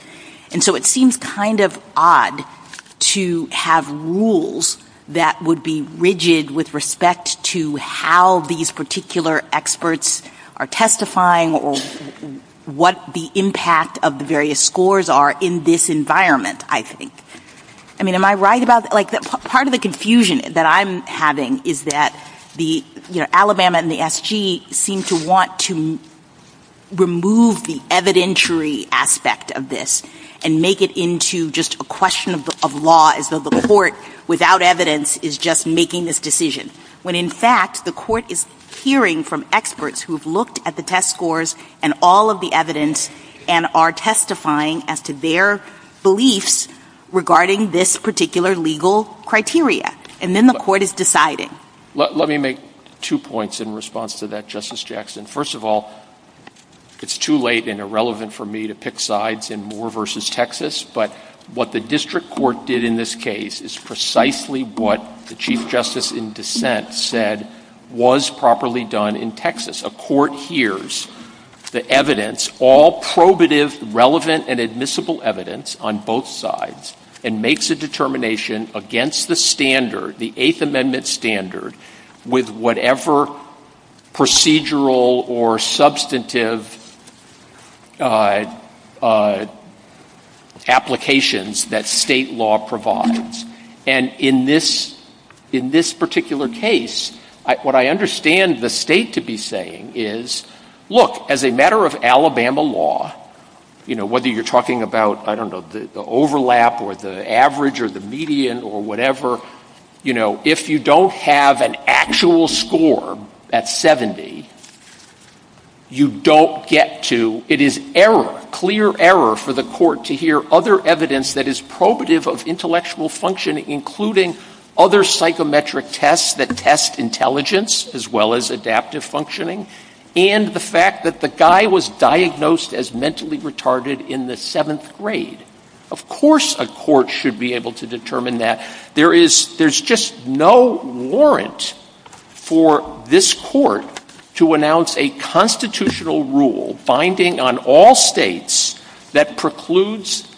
And so it seems kind of odd to have rules that would be rigid with respect to how these particular experts are testifying or what the impact of the various scores are in this environment, I think. I mean, am I right about, like, part of the confusion that I'm having is that the, you know, Alabama and the SG seem to want to remove the evidentiary aspect of this and make it into just a question of law as though the court without evidence is just making this decision. When in fact the court is hearing from the district court at the test scores and all of the evidence and are testifying as to their beliefs regarding this particular legal criteria. And then the court is deciding. Let me make two points in response to that, Justice Jackson. First of all, it's too late and irrelevant for me to pick sides in Moore versus Texas. But what the district court did in this case is precisely what the chief justice in dissent said was properly done in Texas. A court hears the evidence, all probative, relevant and admissible evidence on both sides and makes a determination against the standard, the Eighth Amendment standard, with whatever procedural or substantive applications that state law provides. And in this particular case, what I understand the state to be saying is, look, as a matter of Alabama law, whether you're talking about the overlap or the average or the median or whatever, if you don't have an actual score at 70, you don't get to it is error, clear error for the court to hear other evidence that is probative of intellectual function including other psychometric tests that test intelligence as well as adaptive functioning and the fact that the guy was diagnosed as mentally retarded in the seventh grade. Of course a court should be able to determine that. There is just no warrant for this court to announce a constitutional rule binding on all states that precludes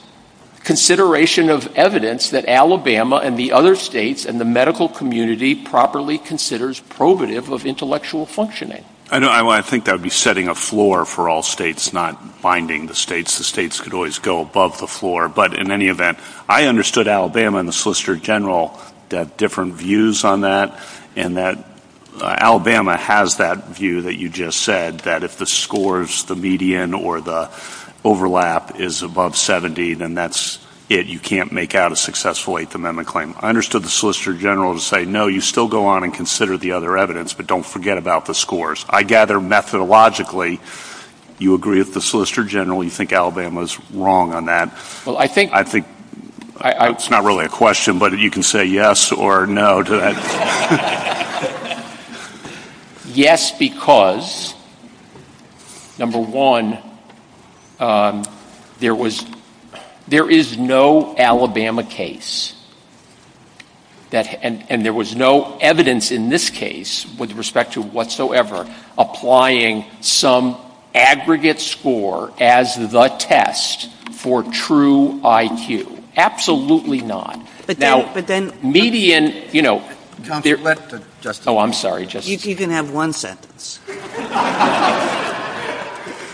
consideration of evidence that Alabama and the other states and state law properly considers probative of intellectual functioning. I think that would be setting a floor for all states, not binding the states. The states could always go above the floor, but in any event, I understood Alabama and the Solicitor General had different views on that, and that Alabama has that view that you just said, that if the scores, the median or the overlap is above 70, then that's it. You can't make out a successful Eighth Amendment claim. I understood the Solicitor General would say, no, you still go on and consider the other evidence, but don't forget about the scores. I gather methodologically you agree with the Solicitor General, you think Alabama is wrong on that. I think it's not really a question, but you can say yes or no to that. Yes, because, number one, there is no evidence in the Alabama case, and there was no evidence in this case with respect to whatsoever applying some aggregate score as the test for true IQ. Absolutely not. Now, median, you know, I'm sorry. You can have one sentence.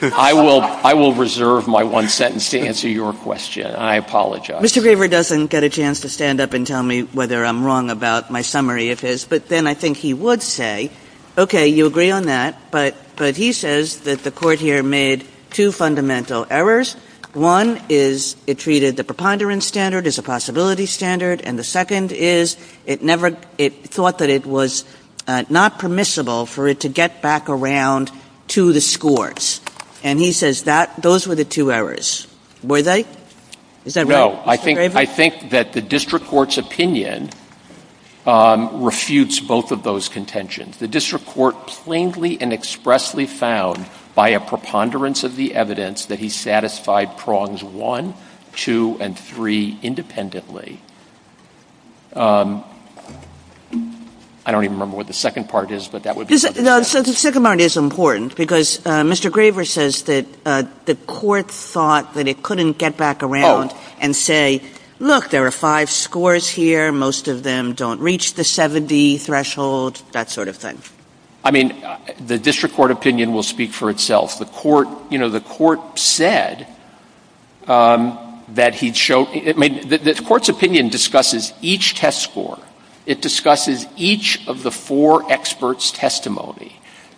I will reserve my one sentence to answer your question. I apologize. Mr. Graver doesn't get a chance to stand up and tell me whether I'm wrong about my summary of this, but then I think he would say, okay, you agree on that, but he says that the court here made two fundamental errors. One is it treated the preponderance standard as a possibility standard, and the second is it thought that it was not permissible for it to get back around to the scores. And he says those were the two errors. Were they? Is that right, Mr. Graver? No, I think that the district court's opinion refutes both of those contentions. The district court plainly and expressly found by a preponderance of the evidence that he satisfied prongs one, two, and three independently. I don't even remember what the second part is, but that would be something. No, the second part is important because Mr. Graver says that the court thought that it couldn't get back around and say, look, there are five scores here. Most of them don't reach the 70 threshold, that sort of thing. I mean, the district court opinion will speak for itself. The court said that he'd show — the court's opinion discusses each test score. It discusses each of the four experts'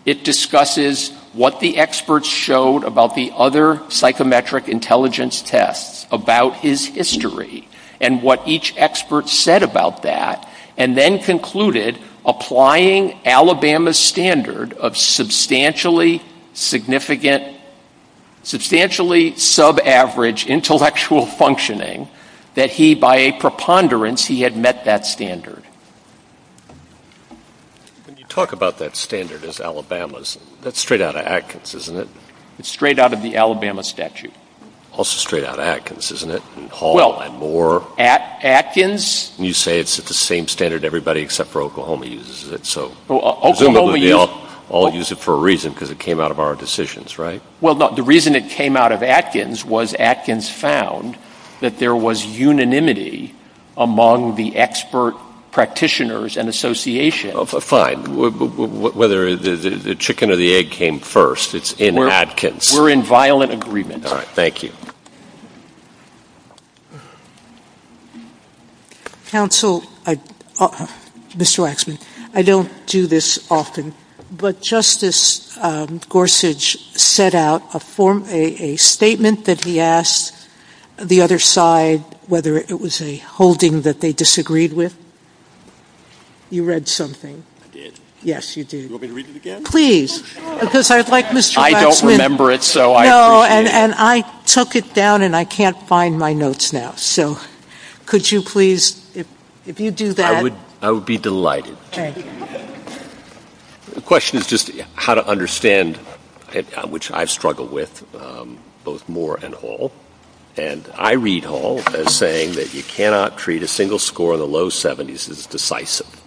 It discusses what the experts showed about the other psychometric intelligence tests, about his history, and what each expert said about that, and then concluded, applying Alabama's standard of substantially significant — substantially subaverage intellectual functioning, that he, by a preponderance, he had met that standard. When you talk about that standard as Alabama's, that's straight out of Atkins, isn't it? It's straight out of the Alabama statute. Also straight out of Atkins, isn't it? And Hall, and Moore. Atkins? You say it's at the same standard everybody except for Oklahoma uses it. So — Oklahoma uses — All use it for a reason, because it came out of our decisions, right? Well, the reason it came out of Atkins was Atkins found that there was unanimity among the expert practitioners and associations. Fine. Whether the chicken or the egg came first, it's in Atkins. We're in violent agreement. All right. Counsel, Mr. Waxman, I don't do this often, but Justice Gorsuch set out a form — a statement that he asked the other side whether it was a holding that they disagreed with. You read something. I did? Yes, you did. You want me to read it again? Could you please? Because I'd like Mr. Waxman — I don't remember it, so I — No, and I took it down, and I can't find my notes now. So could you please, if you do that — I would be delighted. The question is just how to understand which I struggle with, both Moore and Hall. And I read Hall as saying that you cannot treat a single score in the low 70s as decisive.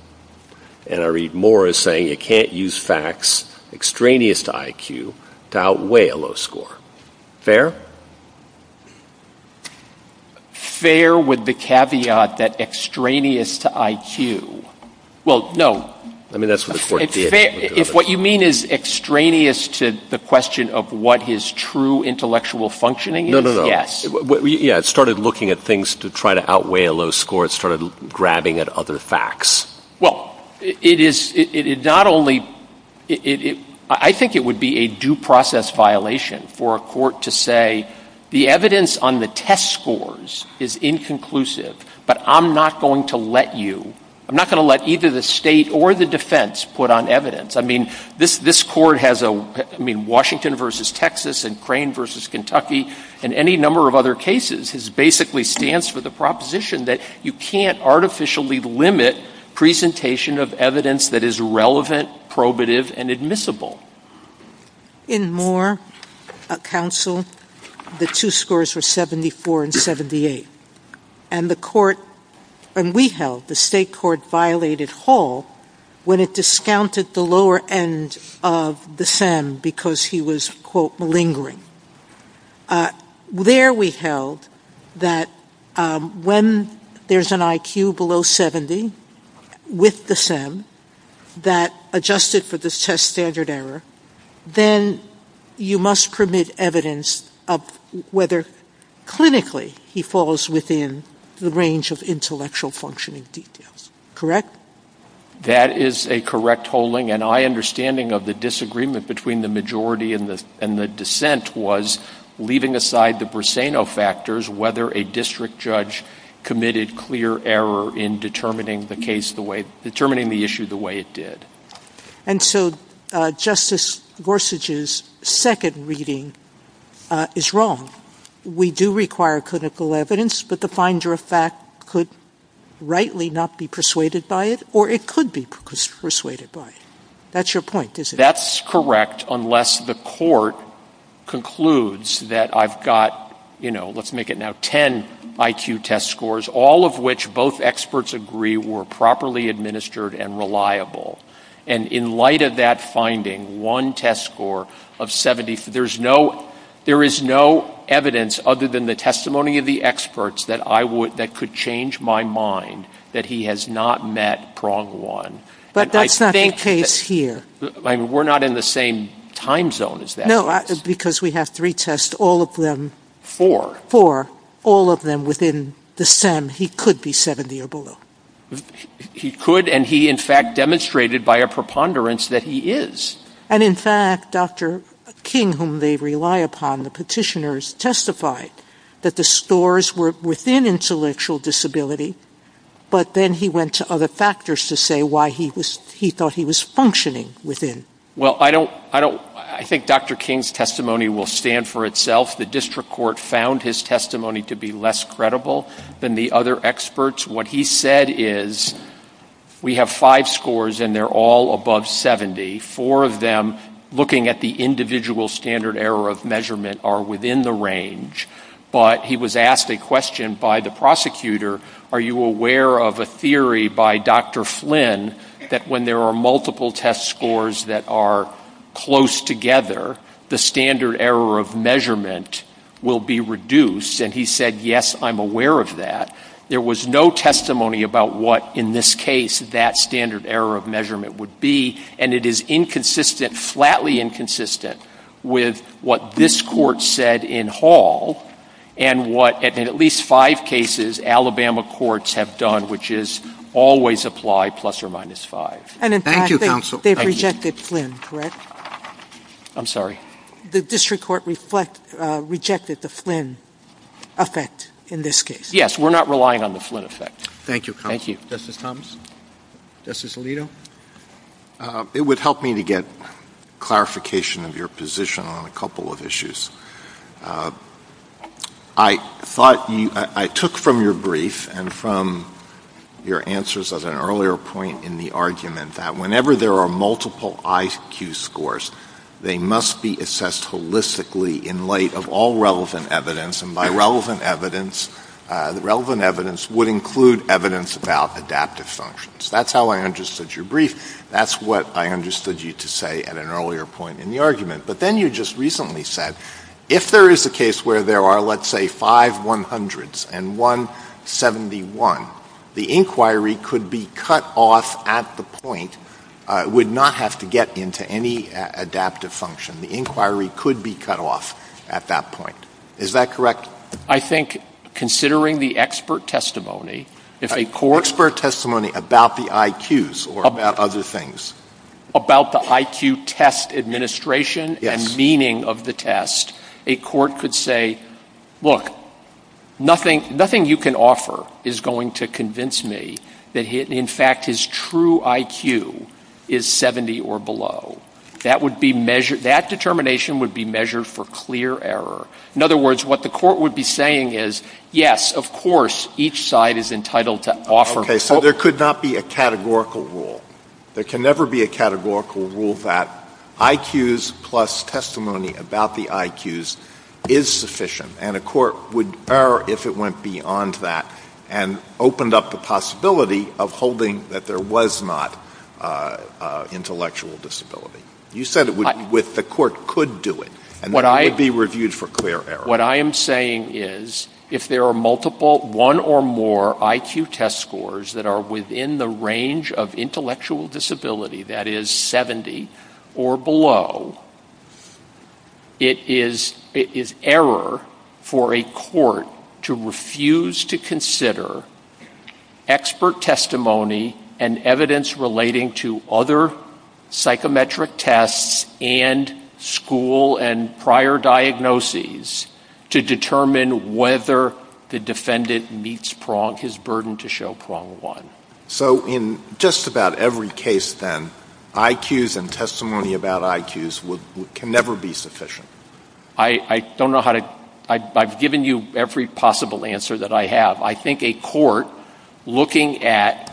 And I read Moore as saying you can't use facts extraneous to IQ to outweigh a low score. Fair with the caveat that extraneous to Well, no. I mean, that's what the court did. If what you mean is extraneous to the question of what his true intellectual functioning is, yes. Yeah, it started looking at things to try to outweigh a low score. It started grabbing at other facts. Well, it is — not only — I think it would be a due process violation for a court to say the evidence on the test scores is inconclusive, but I'm not going to let you — I'm not going to let either the state or the defense put on evidence. I mean, this court has a — I mean, Washington versus Texas and Crane versus Kentucky and any number of other cases basically stands for the proposition that you can't artificially limit presentation of evidence that is relevant, probative, and admissible. In Moore Counsel, the two scores were 74 and 78. And the court — and we held the state court violated Hall when it discounted the lower end of the SEM because he was, quote, lingering. There we held that when there's an IQ below 70 with the SEM that adjusted for this test standard error, then you must permit evidence of whether clinically he falls within the range of intellectual functioning details. Correct? That is a correct holding. And my understanding of the disagreement between the majority and the — and the dissent was, leaving aside the Briseno factors, whether a district judge committed clear error in determining the case the way — determining the issue the way it did. And so Justice Gorsuch's second reading is wrong. We do require clinical evidence, but the finder of fact could rightly not be persuaded by it, or it could be persuaded by it. That's your point, isn't it? That's correct unless the court concludes that I've got, you know, let's make it 70. Now, 10 IQ test scores, all of which both experts agree were properly administered and reliable. And in light of that finding, one test score of 70 — there's no — there is no evidence other than the testimony of the experts that I would — that could change my mind that he has not met prong one. But that's not the case here. I mean, we're not in the same time zone as that. No, because we have three tests, all of them — Four. Four. All of them within the stem. He could be 70 or below. He could, and he in fact demonstrated by a preponderance that he is. And in fact, Dr. King, whom they rely upon, the petitioners, testified that the scores were within intellectual disability, but then he went to other factors to say why he was — he thought he was functioning within. Well, I don't — I think Dr. King's self — the district court found his testimony to be less credible than the other experts. What he said is, we have five scores and they're all above 70. Four of them, looking at the individual standard error of measurement, are within the range. But he was asked a question by the prosecutor, are you aware of a theory by Dr. Flynn that when there are multiple test scores that are close together, the standard error of measurement will be reduced? And he said, yes, I'm aware of that. There was no testimony about what, in this case, that standard error of measurement would be. And it is inconsistent, flatly inconsistent, with what this court said in Hall and what, in at least five cases, Alabama courts have done, which is always apply plus or minus five. Thank you, counsel. They rejected Flynn, correct? I'm sorry. The district court rejected the Flynn effect in this case. Yes, we're not relying on the Flynn effect. Thank you, counsel. Thank you. Justice Thomas? Justice Alito? It would help me to get clarification of your position on a couple of issues. I thought you, I took from your brief and from your answers of an earlier point in the argument that whenever there are five 100s and one 71, the inquiry could be cut off at the point, would not have to get into any adaptive function. The inquiry could be cut off at the point. Is that correct? I think, considering the expert testimony, if a court Expert testimony about the IQs or about other things. About the IQ test administration and meaning of the test, a court could say, look, nothing you can offer is going to convince me that, in fact, his true IQ is 70 or below. That determination would be measured for clear error. In other words, what the court would be saying is, yes, of course, each side is entitled to offer. Okay. So there could not be a categorical rule. There can never be a categorical rule that IQs plus testimony about the IQs is sufficient. And a court would err if it went beyond that and opened up the possibility of holding that there was not intellectual disability. You said the court could do it. And that would be reviewed for clear error. What I am saying is, if there are multiple, one or more IQ test scores that are within the range of intellectual disability, that is, 70 or below, it is error for a court to refuse to consider expert testimony and evidence relating to other psychometric tests and school and prior diagnoses to determine whether the defendant meets his burden to show prong one. So in just about every case, then, IQs and testimony about IQs can never be sufficient. I don't know how to — I've given you every possible answer that I have. I think a court looking at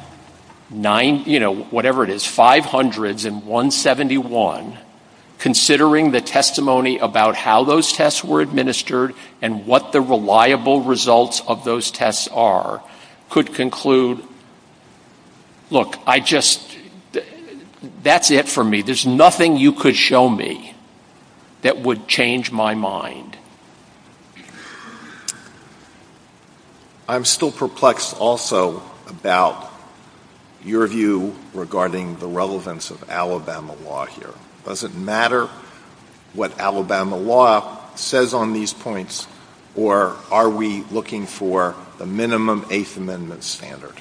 nine — you know, as many as 500s and 171, considering the testimony about how those tests were administered and what the reliable results of those tests are could conclude, look, I just — that's it for me. There's nothing you could show me that would change my mind. I'm still perplexed also about your view regarding the relevance of Alabama law here. Does it matter what Alabama law says on these points, or are we looking for a minimum Eighth Amendment standard?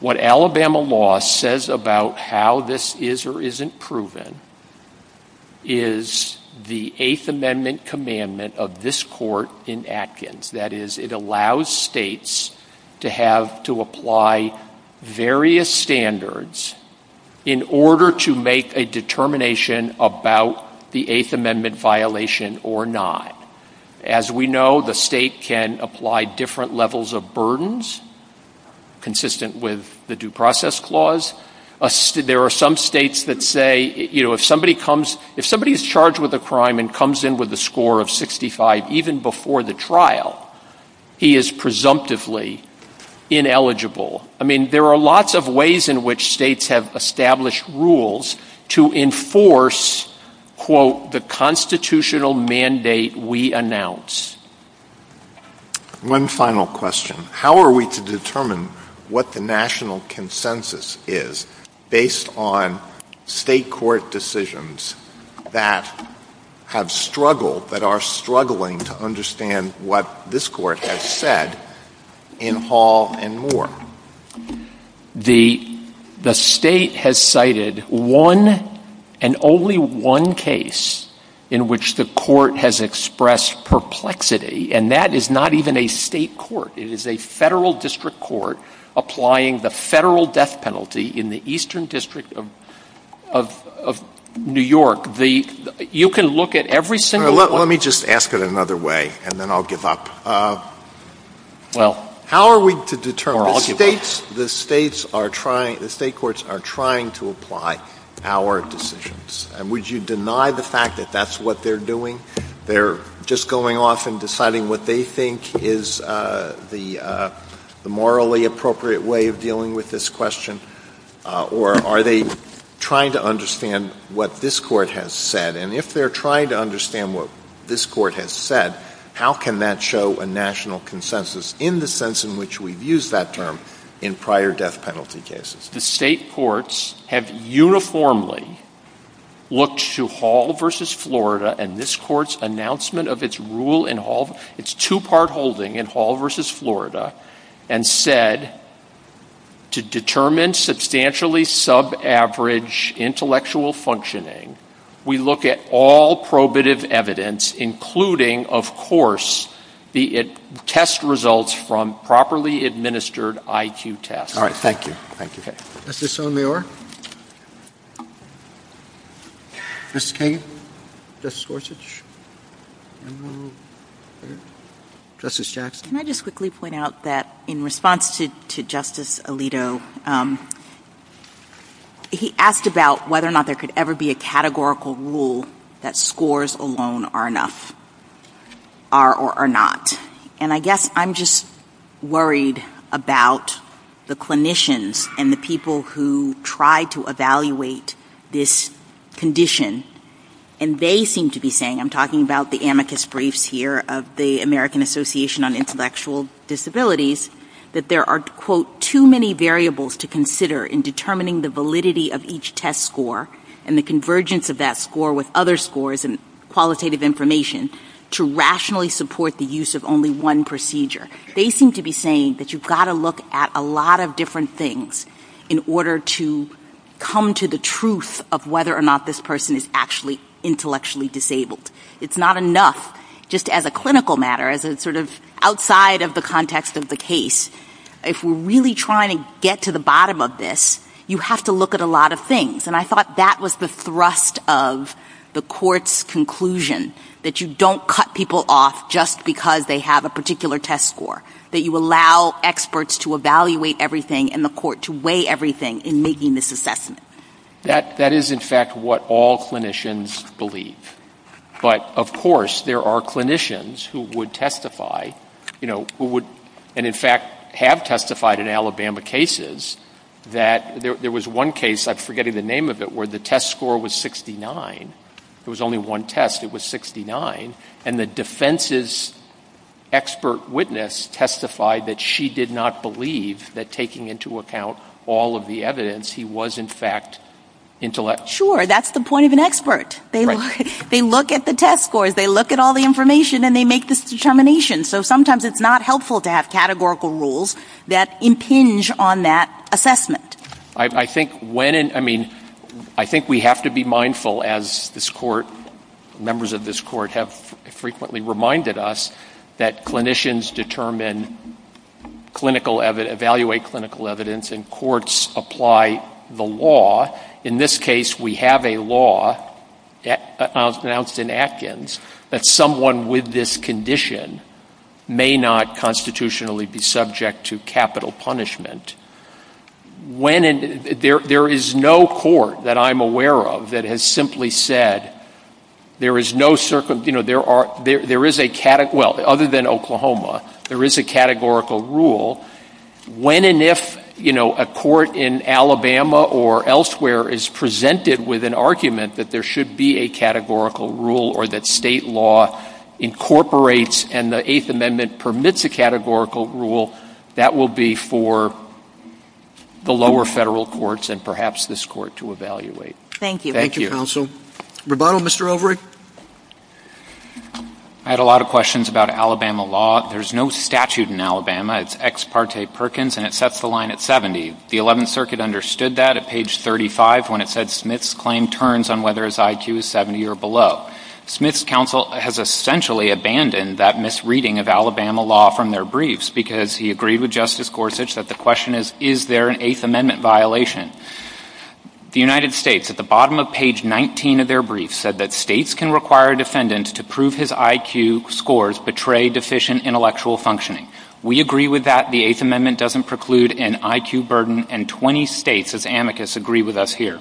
What Alabama law says about how this is or isn't proven is the Eighth Amendment commandment of this court in That is, it allows states to have — to apply various standards in order to make a determination about the Eighth Amendment violation or not. As we know, the state can apply different levels of burdens consistent with the Due Process Clause. There are some states that say, you know, if somebody comes — if somebody is charged with a crime and comes in with a score of 65 even before the trial, he is presumptively ineligible. I mean, there are lots of ways in which states have established rules to enforce quote, the constitutional mandate we announce. One final question. How are we to determine what the constitutional consensus is based on state court decisions that have struggled, that are struggling to understand what this court has said in Hall and Moore? The state has cited one and only one case in which the court has expressed perplexity, and that is not even a state court. It is a federal district court applying the federal death penalty in the eastern district of New York. You can look at every single — Let me just ask it another way, and then I'll give up. Well — How are we to determine — The states are trying — the state courts are trying to apply our decisions. And would you deny the fact that that's what they're doing? They're just going off and deciding what they think is the morally appropriate way of dealing with this question, or are they trying to understand what this court has said? And if they're trying to understand what this court has said, how can that show a national consensus in the sense in which we've used that term in prior death penalty cases? The state courts have uniformly looked to Hall versus Florida, and this court's announcement of its rule in Hall — its two-part holding in Hall versus Florida and said, to determine substantially sub-average intellectual functioning, we look at all probative evidence, including, of course, the test results from properly administered IQ tests. All right. Thank you. Thank you. Is this on the order? Justice Kagan? Justice Gorsuch? Justice Jackson? Can I just quickly point out that in response to Justice Alito, he asked about whether or not there could ever be a categorical rule that scores alone are enough, are or are not. And I guess I'm just worried about the clinicians and the people who try to evaluate this condition. And they seem to be saying — I'm talking about the amethyst briefs here of the American Association on Intellectual Disabilities — that there are, quote, too many variables to consider in determining the validity of each test score and the convergence of that score with other scores and qualitative information to rationally support the use of only one procedure. They seem to be saying that you've got to look at a lot of different things in order to come to the truth of whether or not this person is actually intellectually disabled. It's not enough just as a clinical matter, as a sort of outside of the context of the case. If we're really trying to get to the bottom of this, you have to look at a lot of things. And I thought that was the thrust of the court's conclusion, that you don't cut people off just because they have a particular test score, that you allow experts to evaluate everything and the That is, in fact, what all clinicians believe. But, of course, there are clinicians who would testify — and, in fact, have testified in Alabama cases — that there was one case, I'm forgetting the name of it, where the test score was 69. It was only one test. It was 69. And the defense's expert witness testified that she did not believe that taking into account all of the other evidence, he was, in fact, intellectual. Sure. That's the point of an expert. They look at the test scores, they look at all the information, and they make this determination. So sometimes it's not helpful to have categorical rules that impinge on that assessment. I think we have to be mindful, as members of this court have frequently reminded us, that clinicians determine clinical evidence, evaluate clinical evidence, and courts apply the law. In this case, we have a law announced in Atkins that someone with this condition may not constitutionally be subject to capital punishment. There is no court that I'm aware of that has simply said there is no circumstance — well, other than Oklahoma, there is a categorical rule. When and if a court in Alabama or elsewhere is presented with an argument that there should be a categorical rule or that state law incorporates and the Eighth Amendment permits a categorical rule, that will be for the lower federal courts and perhaps this court to evaluate. Thank you. Thank you, counsel. Roboto, Mr. Overy? I had a lot of questions about Alabama law. There's no statute in Alabama. It's ex parte Perkins and it sets the line at 70. The 11th Circuit understood that at page 35 when it said Smith's claim turns on whether his IQ is 70 or below. Smith's counsel has essentially abandoned that misreading of Alabama law from their briefs because he agreed with Justice Gorsuch that the question is, is there an Eighth Amendment violation? The United States, at the bottom of page 19 of their brief, said that states can require defendants to prove his IQ scores betray deficient intellectual functioning. We agree with that. The Eighth Amendment doesn't preclude an IQ burden and 20 states, as amicus, agree with us here.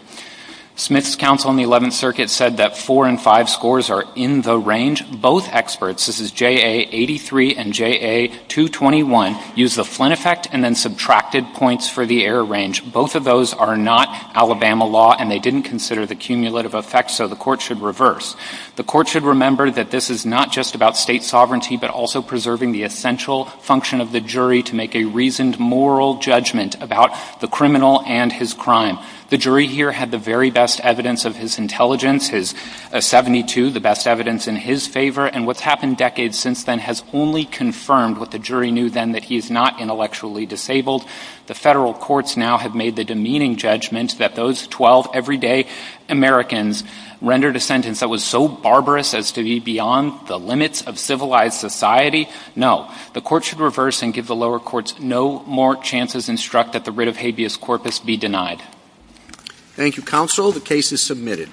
Smith's counsel in the 11th Circuit said that four and five scores are in the range. Both experts, this is JA83 and JA221, use the Flynn effect and then subtracted points for the error range. Both of those are not Alabama law and they didn't consider the cumulative effect, so the court should reverse. The court should remember that this is not just about state sovereignty but also preserving the essential function of the jury to make a reasoned moral judgment about the criminal and his crime. The jury here had the very best evidence of his intelligence, his 72, the best evidence in his favor, and what's happened decades since then has only confirmed what the jury knew then, that he's not intellectually disabled. The federal courts now have made the demeaning judgment that those 12 everyday Americans rendered a sentence that was so barbarous as to be beyond the limits of civilized society. No, the court should reverse and give the lower courts no more chances instruct that the writ of habeas corpus be denied. Thank you, counsel. The case is submitted.